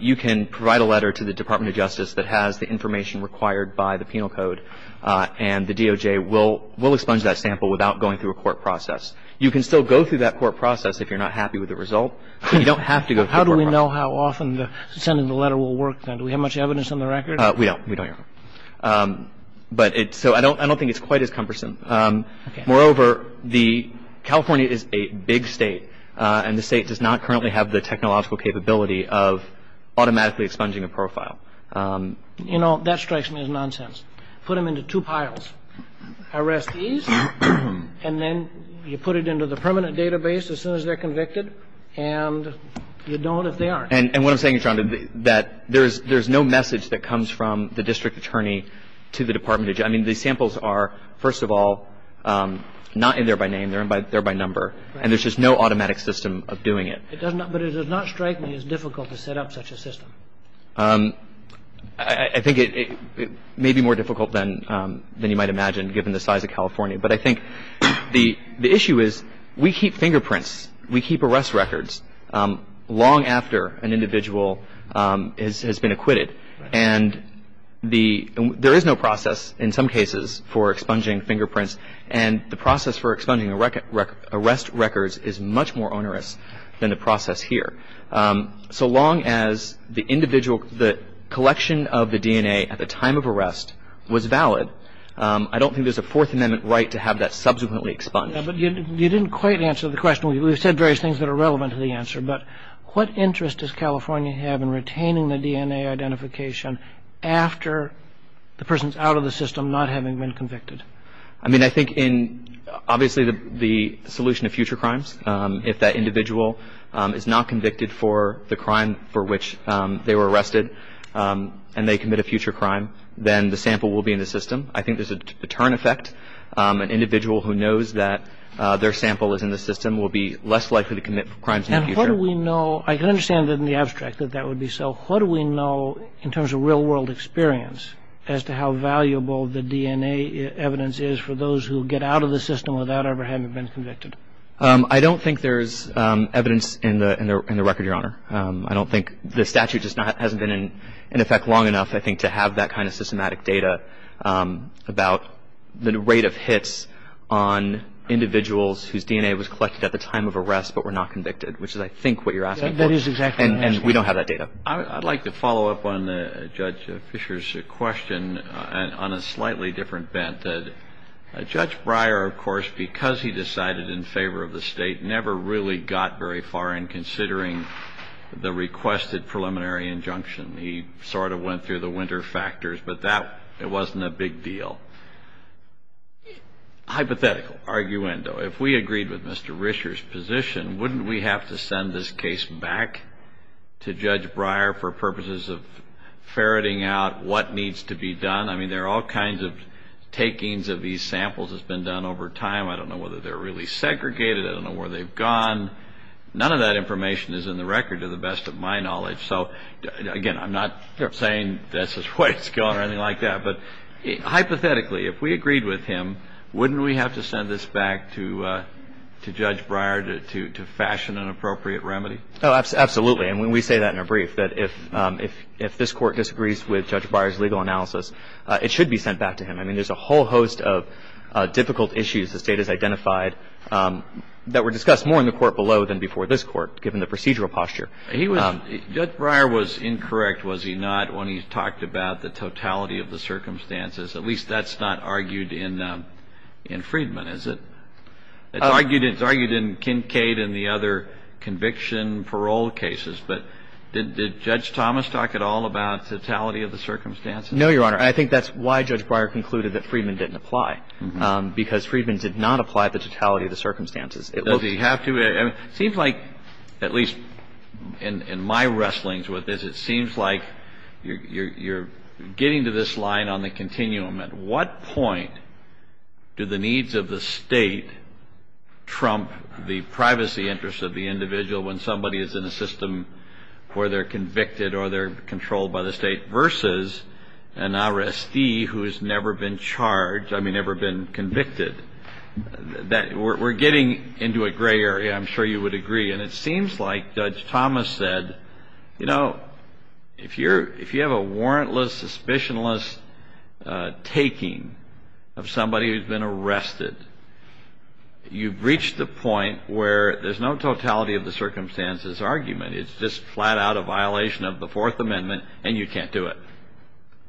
You can provide a letter to the Department of Justice that has the information required by the penal code, and the DOJ will expunge that sample without going through a court process. You can still go through that court process if you're not happy with the result. You don't have to go through the court process. How do we know how often sending the letter will work, then? Do we have much evidence on the record? We don't. We don't, Your Honor. But it – so I don't think it's quite as cumbersome. Moreover, the – California is a big state, and the state does not currently have the technological capability of automatically expunging a profile. You know, that strikes me as nonsense. Put them into two piles. Arrest these, and then you put it into the permanent database as soon as they're convicted. And you don't if they aren't. And what I'm saying, Your Honor, that there is no message that comes from the district attorney to the Department of – I mean, the samples are, first of all, not in there by name. They're in there by number. Right. And there's just no automatic system of doing it. It does not – but it does not strike me as difficult to set up such a system. I think it may be more difficult than you might imagine, given the size of California. But I think the issue is we keep fingerprints. We keep arrest records long after an individual has been acquitted. And the – there is no process, in some cases, for expunging fingerprints. And the process for expunging arrest records is much more onerous than the process here. So long as the individual – the collection of the DNA at the time of arrest was valid, I don't think there's a Fourth Amendment right to have that subsequently expunged. Yeah, but you didn't quite answer the question. We've said various things that are relevant to the answer. But what interest does California have in retaining the DNA identification after the person's out of the system, not having been convicted? I mean, I think in – obviously, the solution to future crimes, if that individual is not convicted for the crime for which they were arrested and they commit a future crime, then the sample will be in the system. I think there's a turn effect. An individual who knows that their sample is in the system will be less likely to commit crimes in the future. And what do we know – I can understand in the abstract that that would be so. What do we know in terms of real-world experience as to how valuable the DNA evidence is for those who get out of the system without ever having been convicted? I don't think there's evidence in the record, Your Honor. I don't think – the statute just hasn't been in effect long enough, I think, to have that kind of systematic data about the rate of hits on individuals whose DNA was collected at the time of arrest but were not convicted, which is, I think, what you're asking for. That is exactly what I'm asking. And we don't have that data. I'd like to follow up on Judge Fisher's question on a slightly different bent. Judge Breyer, of course, because he decided in favor of the State, never really got very far in considering the requested preliminary injunction. He sort of went through the winter factors. But that – it wasn't a big deal. Hypothetical, arguendo. If we agreed with Mr. Rischer's position, wouldn't we have to send this case back to Judge Breyer for purposes of ferreting out what needs to be done? I mean, there are all kinds of takings of these samples that's been done over time. I don't know whether they're really segregated. I don't know where they've gone. None of that information is in the record to the best of my knowledge. So, again, I'm not saying this is what's going on or anything like that. But hypothetically, if we agreed with him, wouldn't we have to send this back to Judge Breyer to fashion an appropriate remedy? Oh, absolutely. And when we say that in a brief, that if this Court disagrees with Judge Breyer's legal analysis, it should be sent back to him. I mean, there's a whole host of difficult issues the State has identified that were discussed more in the Court below than before this Court, given the procedural posture. Judge Breyer was incorrect, was he not, when he talked about the totality of the circumstances. At least that's not argued in Friedman, is it? It's argued in Kincade and the other conviction parole cases. But did Judge Thomas talk at all about totality of the circumstances? No, Your Honor. I think that's why Judge Breyer concluded that Friedman didn't apply, because Friedman did not apply the totality of the circumstances. Does he have to? It seems like, at least in my wrestlings with this, it seems like you're getting to this line on the continuum. At what point do the needs of the State trump the privacy interests of the individual when somebody is in a system where they're convicted or they're controlled by the State versus an RSD who has never been charged, I mean, never been convicted? We're getting into a gray area, I'm sure you would agree. And it seems like Judge Thomas said, you know, if you have a warrantless, suspicionless taking of somebody who's been arrested, you've reached the point where there's no totality of the circumstances argument. It's just flat out a violation of the Fourth Amendment, and you can't do it.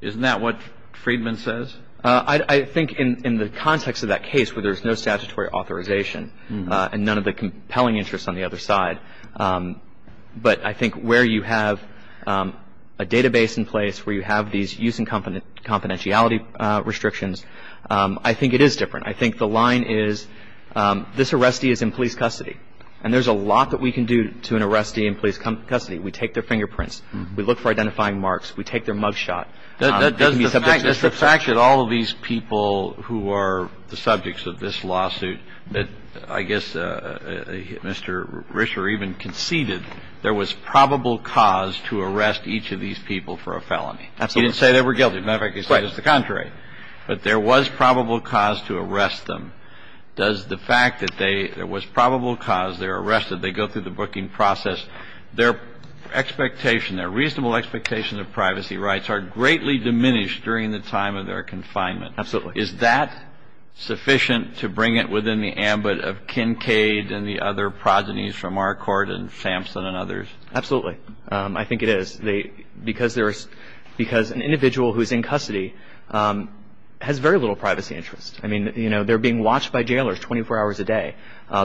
Isn't that what Friedman says? I think in the context of that case where there's no statutory authorization and none of the compelling interests on the other side, but I think where you have a database in place, where you have these use and confidentiality restrictions, I think it is different. I think the line is this RSD is in police custody, and there's a lot that we can do to an RSD in police custody. We take their fingerprints. We look for identifying marks. We take their mug shot. That's the fact that all of these people who are the subjects of this lawsuit, that I guess Mr. Risher even conceded there was probable cause to arrest each of these people for a felony. Absolutely. He didn't say they were guilty. Matter of fact, he said it was the contrary. But there was probable cause to arrest them. Does the fact that they – there was probable cause, they're arrested, they go through the booking process, their expectation, their reasonable expectation of privacy rights are greatly diminished during the time of their confinement. Absolutely. Is that sufficient to bring it within the ambit of Kincaid and the other progenies from our court and Sampson and others? Absolutely. I think it is. Because there is – because an individual who is in custody has very little privacy interest. I mean, you know, they're being watched by jailers 24 hours a day.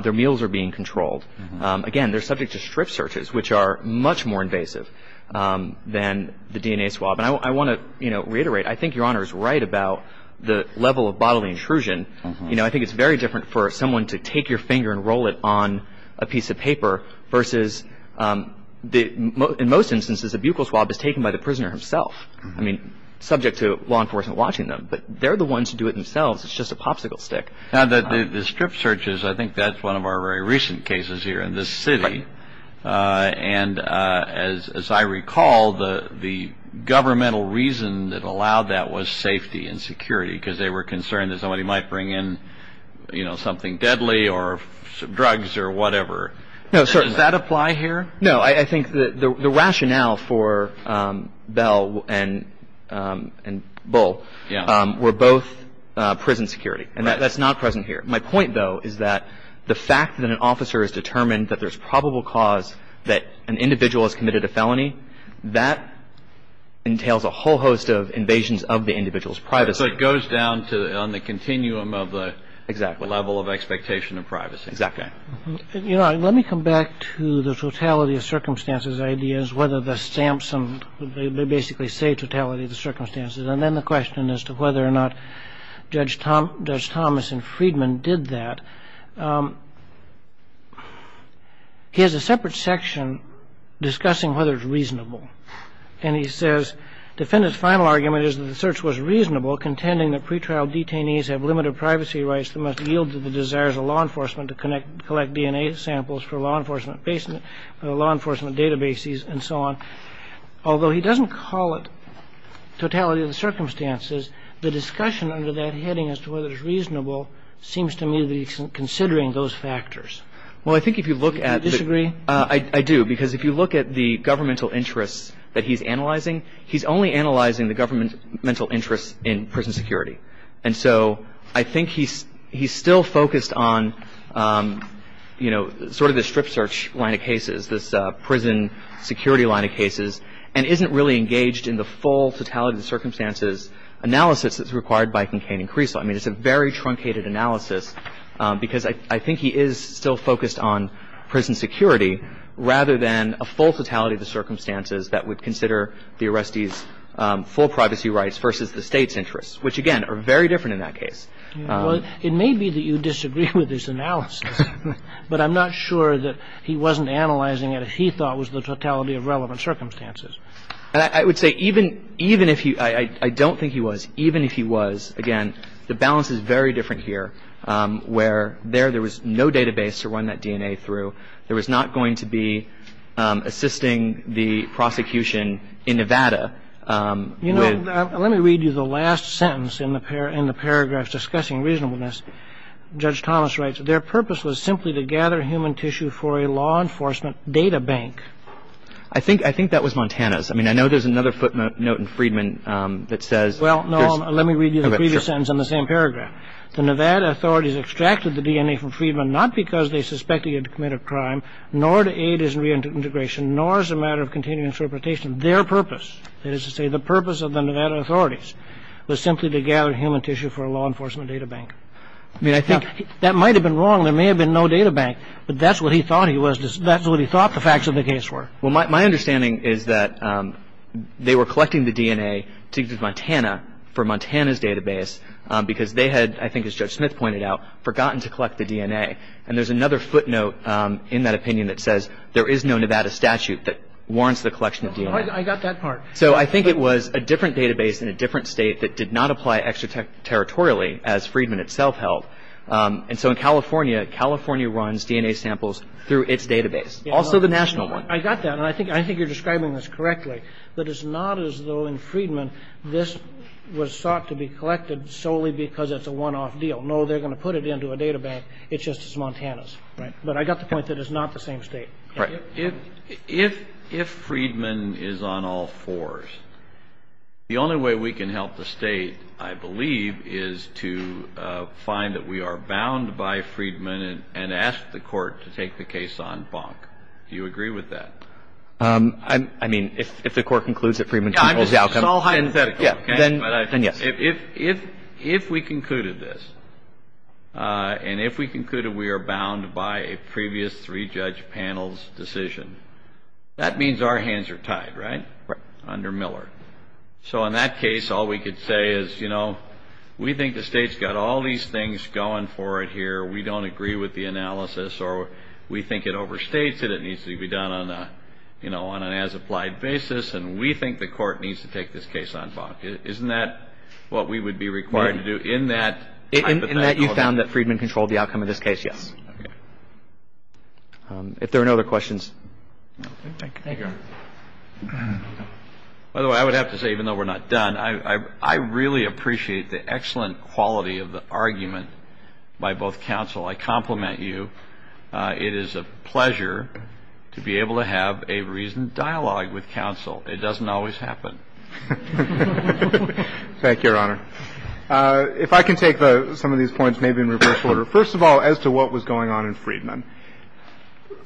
Their meals are being controlled. Again, they're subject to strip searches, which are much more invasive than the DNA swab. And I want to, you know, reiterate, I think Your Honor is right about the level of bodily intrusion. You know, I think it's very different for someone to take your finger and roll it on a piece of paper versus the – in most instances, a buccal swab is taken by the prisoner himself. I mean, subject to law enforcement watching them. But they're the ones who do it themselves. It's just a popsicle stick. Now, the strip searches, I think that's one of our very recent cases here in this city. And as I recall, the governmental reason that allowed that was safety and security because they were concerned that somebody might bring in, you know, something deadly or drugs or whatever. No, sir. Does that apply here? No, I think the rationale for Bell and Bull were both prison security. And that's not present here. My point, though, is that the fact that an officer is determined that there's probable cause that an individual has committed a felony, that entails a whole host of invasions of the individual's privacy. So it goes down to – on the continuum of the level of expectation of privacy. Exactly. Your Honor, let me come back to the totality of circumstances ideas, whether the Sampson – they basically say totality of the circumstances. And then the question as to whether or not Judge Thomas and Friedman did that. He has a separate section discussing whether it's reasonable. And he says, Defendant's final argument is that the search was reasonable, contending that pretrial detainees have limited privacy rights that must yield to the desires of law enforcement to collect DNA samples for law enforcement databases and so on. Although he doesn't call it totality of the circumstances, the discussion under that heading as to whether it's reasonable seems to me that he's considering those factors. Well, I think if you look at – Do you disagree? I do. Because if you look at the governmental interests that he's analyzing, he's only analyzing the governmental interests in prison security. And so I think he's still focused on, you know, sort of the strip search line of cases, this prison security line of cases, and isn't really engaged in the full totality of the circumstances analysis that's required by Kincaid and Caruso. I mean, it's a very truncated analysis, because I think he is still focused on prison security rather than a full totality of the circumstances that would consider the arrestees' full privacy rights versus the state's interests, which, again, are very different in that case. Well, it may be that you disagree with his analysis, but I'm not sure that he wasn't analyzing it if he thought it was the totality of relevant circumstances. I would say even if he – I don't think he was. Even if he was, again, the balance is very different here, where there was no database to run that DNA through. There was not going to be assisting the prosecution in Nevada with – You know, let me read you the last sentence in the paragraphs discussing reasonableness. Judge Thomas writes, their purpose was simply to gather human tissue for a law enforcement data bank. I think that was Montana's. I mean, I know there's another footnote in Friedman that says – Well, no, let me read you the previous sentence in the same paragraph. The Nevada authorities extracted the DNA from Friedman not because they suspected he had committed a crime, nor to aid his reintegration, nor as a matter of continuing interpretation. Their purpose, that is to say the purpose of the Nevada authorities, was simply to gather human tissue for a law enforcement data bank. I mean, I think that might have been wrong. There may have been no data bank, but that's what he thought he was. That's what he thought the facts of the case were. Well, my understanding is that they were collecting the DNA to Montana for Montana's database because they had, I think as Judge Smith pointed out, forgotten to collect the DNA. And there's another footnote in that opinion that says there is no Nevada statute that warrants the collection of DNA. I got that part. So I think it was a different database in a different state that did not apply extraterritorially, as Friedman itself held. And so in California, California runs DNA samples through its database, also the national one. I got that. And I think you're describing this correctly, that it's not as though in Friedman this was sought to be collected solely because it's a one-off deal. No, they're going to put it into a data bank. It's just as Montana's. But I got the point that it's not the same state. Right. If Friedman is on all fours, the only way we can help the state, I believe, is to find that we are bound by Friedman and ask the court to take the case on bonk. Do you agree with that? I mean, if the court concludes that Friedman's team holds the outcome. It's all hypothetical. Then yes. If we concluded this, and if we concluded we are bound by a previous three-judge panel's decision, that means our hands are tied, right? Right. Under Miller. So in that case, all we could say is, you know, we think the state's got all these things going for it here. We don't agree with the analysis. Or we think it overstates it. It needs to be done on an as-applied basis. And we think the court needs to take this case on bonk. Isn't that what we would be required to do in that? In that you found that Friedman controlled the outcome of this case, yes. Okay. If there are no other questions. Thank you. By the way, I would have to say, even though we're not done, I really appreciate the excellent quality of the argument by both counsel. I compliment you. It is a pleasure to be able to have a reasoned dialogue with counsel. It doesn't always happen. Thank you, Your Honor. If I can take some of these points maybe in reverse order. First of all, as to what was going on in Friedman.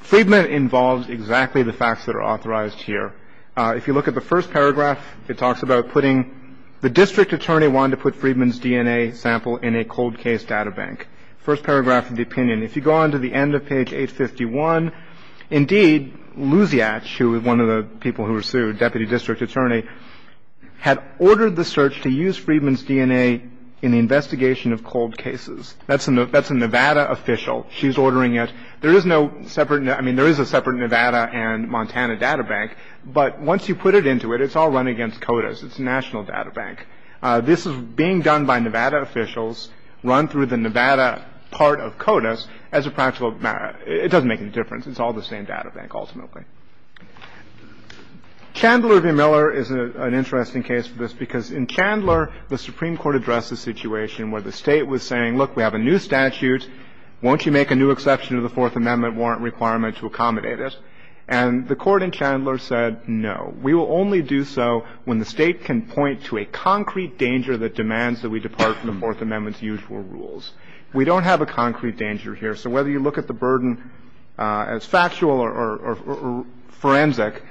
Friedman involves exactly the facts that are authorized here. If you look at the first paragraph, it talks about putting the district attorney wanted to put Friedman's DNA sample in a cold case databank. First paragraph of the opinion. If you go on to the end of page 851, indeed, Luziach, who was one of the people who were sued, deputy district attorney, had ordered the search to use Friedman's DNA in the investigation of cold cases. That's a Nevada official. She's ordering it. There is no separate. I mean, there is a separate Nevada and Montana databank. But once you put it into it, it's all run against CODIS. It's a national databank. This is being done by Nevada officials, run through the Nevada part of CODIS as a practical matter. It doesn't make any difference. It's all the same databank ultimately. Chandler v. Miller is an interesting case for this because in Chandler, the Supreme Court addressed the situation where the State was saying, look, we have a new statute. Won't you make a new exception to the Fourth Amendment warrant requirement to accommodate it? And the Court in Chandler said, no. We will only do so when the State can point to a concrete danger that demands that we depart from the Fourth Amendment's usual rules. We don't have a concrete danger here. So whether you look at the burden as factual or forensic,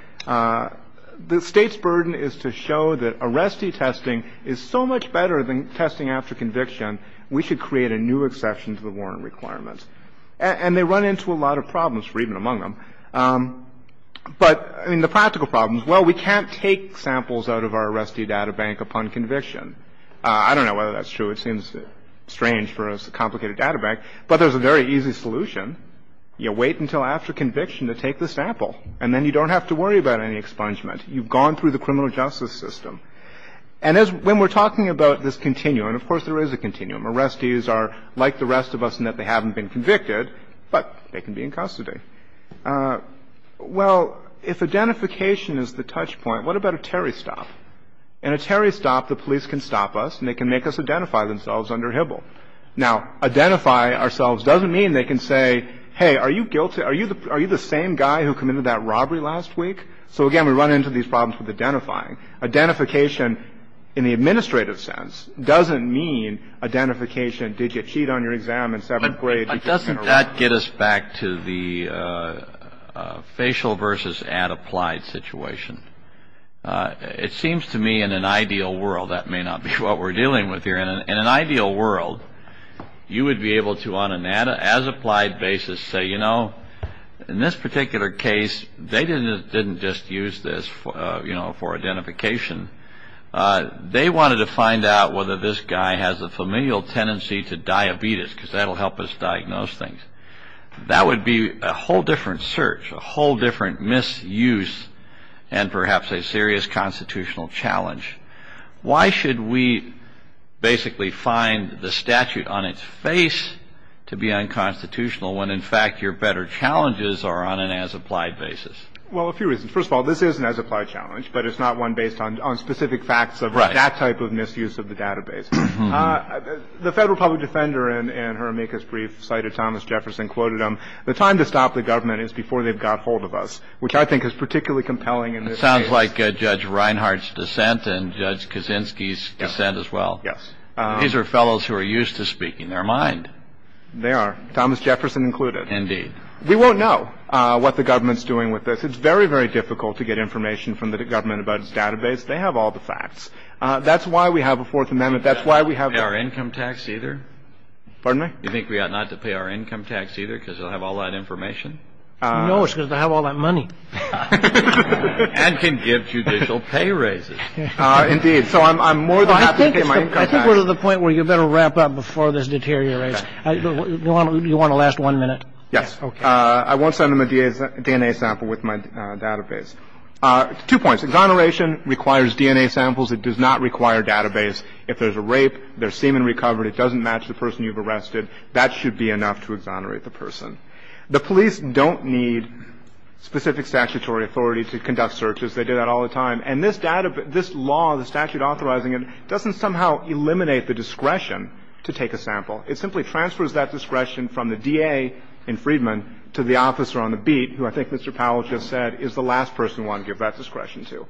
the State's burden is to show that arrestee testing is so much better than testing after conviction, we should create a new exception to the warrant requirement. And they run into a lot of problems for even among them. But, I mean, the practical problems, well, we can't take samples out of our arrestee databank upon conviction. I don't know whether that's true. It seems strange for a complicated databank. But there's a very easy solution. You wait until after conviction to take the sample, and then you don't have to worry about any expungement. You've gone through the criminal justice system. And when we're talking about this continuum, and of course there is a continuum, arrestees are like the rest of us in that they haven't been convicted, but they can be in custody. Well, if identification is the touchpoint, what about a Terry stop? In a Terry stop, the police can stop us, and they can make us identify themselves under HBIL. Now, identify ourselves doesn't mean they can say, hey, are you guilty? Are you the same guy who committed that robbery last week? So, again, we run into these problems with identifying. Identification in the administrative sense doesn't mean identification, did you cheat on your exam in seventh grade? But doesn't that get us back to the facial versus ad applied situation? It seems to me in an ideal world that may not be what we're dealing with here. In an ideal world, you would be able to on an ad as applied basis say, you know, in this particular case, they didn't just use this, you know, for identification. They wanted to find out whether this guy has a familial tendency to diabetes because that will help us diagnose things. That would be a whole different search, a whole different misuse, and perhaps a serious constitutional challenge. Why should we basically find the statute on its face to be unconstitutional when, in fact, your better challenges are on an as applied basis? Well, a few reasons. First of all, this is an as applied challenge, but it's not one based on specific facts of that type of misuse of the database. The federal public defender in her make us brief cited Thomas Jefferson, quoted him, the time to stop the government is before they've got hold of us, which I think is particularly compelling in this case. Just like Judge Reinhardt's dissent and Judge Kaczynski's dissent as well. Yes. These are fellows who are used to speaking their mind. They are. Thomas Jefferson included. Indeed. We won't know what the government's doing with this. It's very, very difficult to get information from the government about its database. They have all the facts. That's why we have a Fourth Amendment. That's why we have our income tax either. Pardon me? You think we ought not to pay our income tax either because they'll have all that information? No, it's because they'll have all that money. And can give judicial pay raises. Indeed. So I'm more than happy to get my income tax. I think we're to the point where you better wrap up before this deteriorates. Okay. Do you want to last one minute? Yes. Okay. I won't send them a DNA sample with my database. Two points. Exoneration requires DNA samples. It does not require database. If there's a rape, there's semen recovered, it doesn't match the person you've arrested, that should be enough to exonerate the person. The police don't need specific statutory authority to conduct searches. They do that all the time. And this law, the statute authorizing it, doesn't somehow eliminate the discretion to take a sample. It simply transfers that discretion from the DA in Freedman to the officer on the beat, who I think Mr. Powell just said is the last person we want to give that discretion to.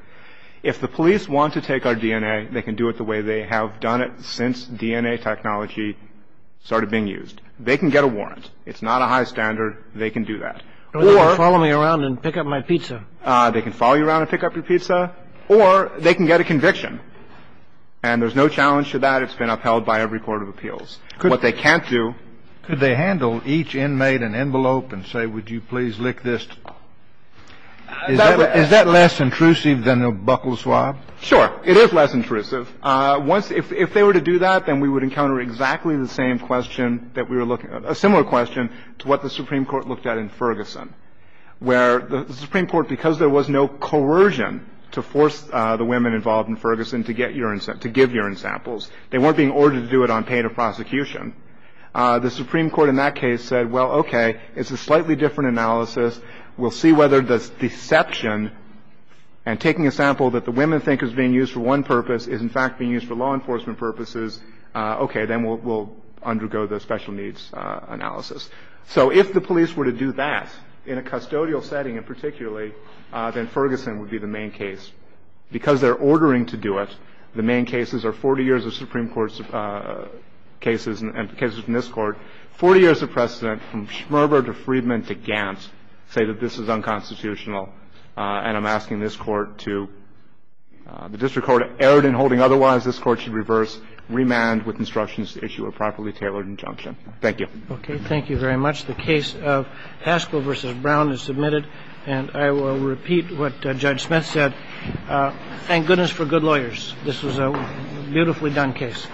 If the police want to take our DNA, they can do it the way they have done it since DNA technology started being used. They can get a warrant. It's not a high standard. They can do that. Or they can follow me around and pick up my pizza. They can follow you around and pick up your pizza. Or they can get a conviction. And there's no challenge to that. It's been upheld by every court of appeals. What they can't do. Could they handle each inmate an envelope and say, would you please lick this? Is that less intrusive than a buckle swab? Sure. It is less intrusive. If they were to do that, then we would encounter exactly the same question that we were looking at, a similar question to what the Supreme Court looked at in Ferguson, where the Supreme Court, because there was no coercion to force the women involved in Ferguson to get urine samples, to give urine samples, they weren't being ordered to do it on pain of prosecution. The Supreme Court in that case said, well, okay, it's a slightly different analysis. We'll see whether this deception and taking a sample that the women think is being used for one purpose is in fact being used for law enforcement purposes. Okay. Then we'll undergo the special needs analysis. So if the police were to do that in a custodial setting in particularly, then Ferguson would be the main case. Because they're ordering to do it, the main cases are 40 years of Supreme Court cases and cases in this Court, 40 years of precedent from Schmerber to Friedman to Gantz say that this is unconstitutional. And I'm asking this Court to, the district court erred in holding otherwise, this Court should reverse, remand with instructions to issue a properly tailored injunction. Thank you. Okay. Thank you very much. The case of Haskell v. Brown is submitted. And I will repeat what Judge Smith said. Thank goodness for good lawyers. This was a beautifully done case.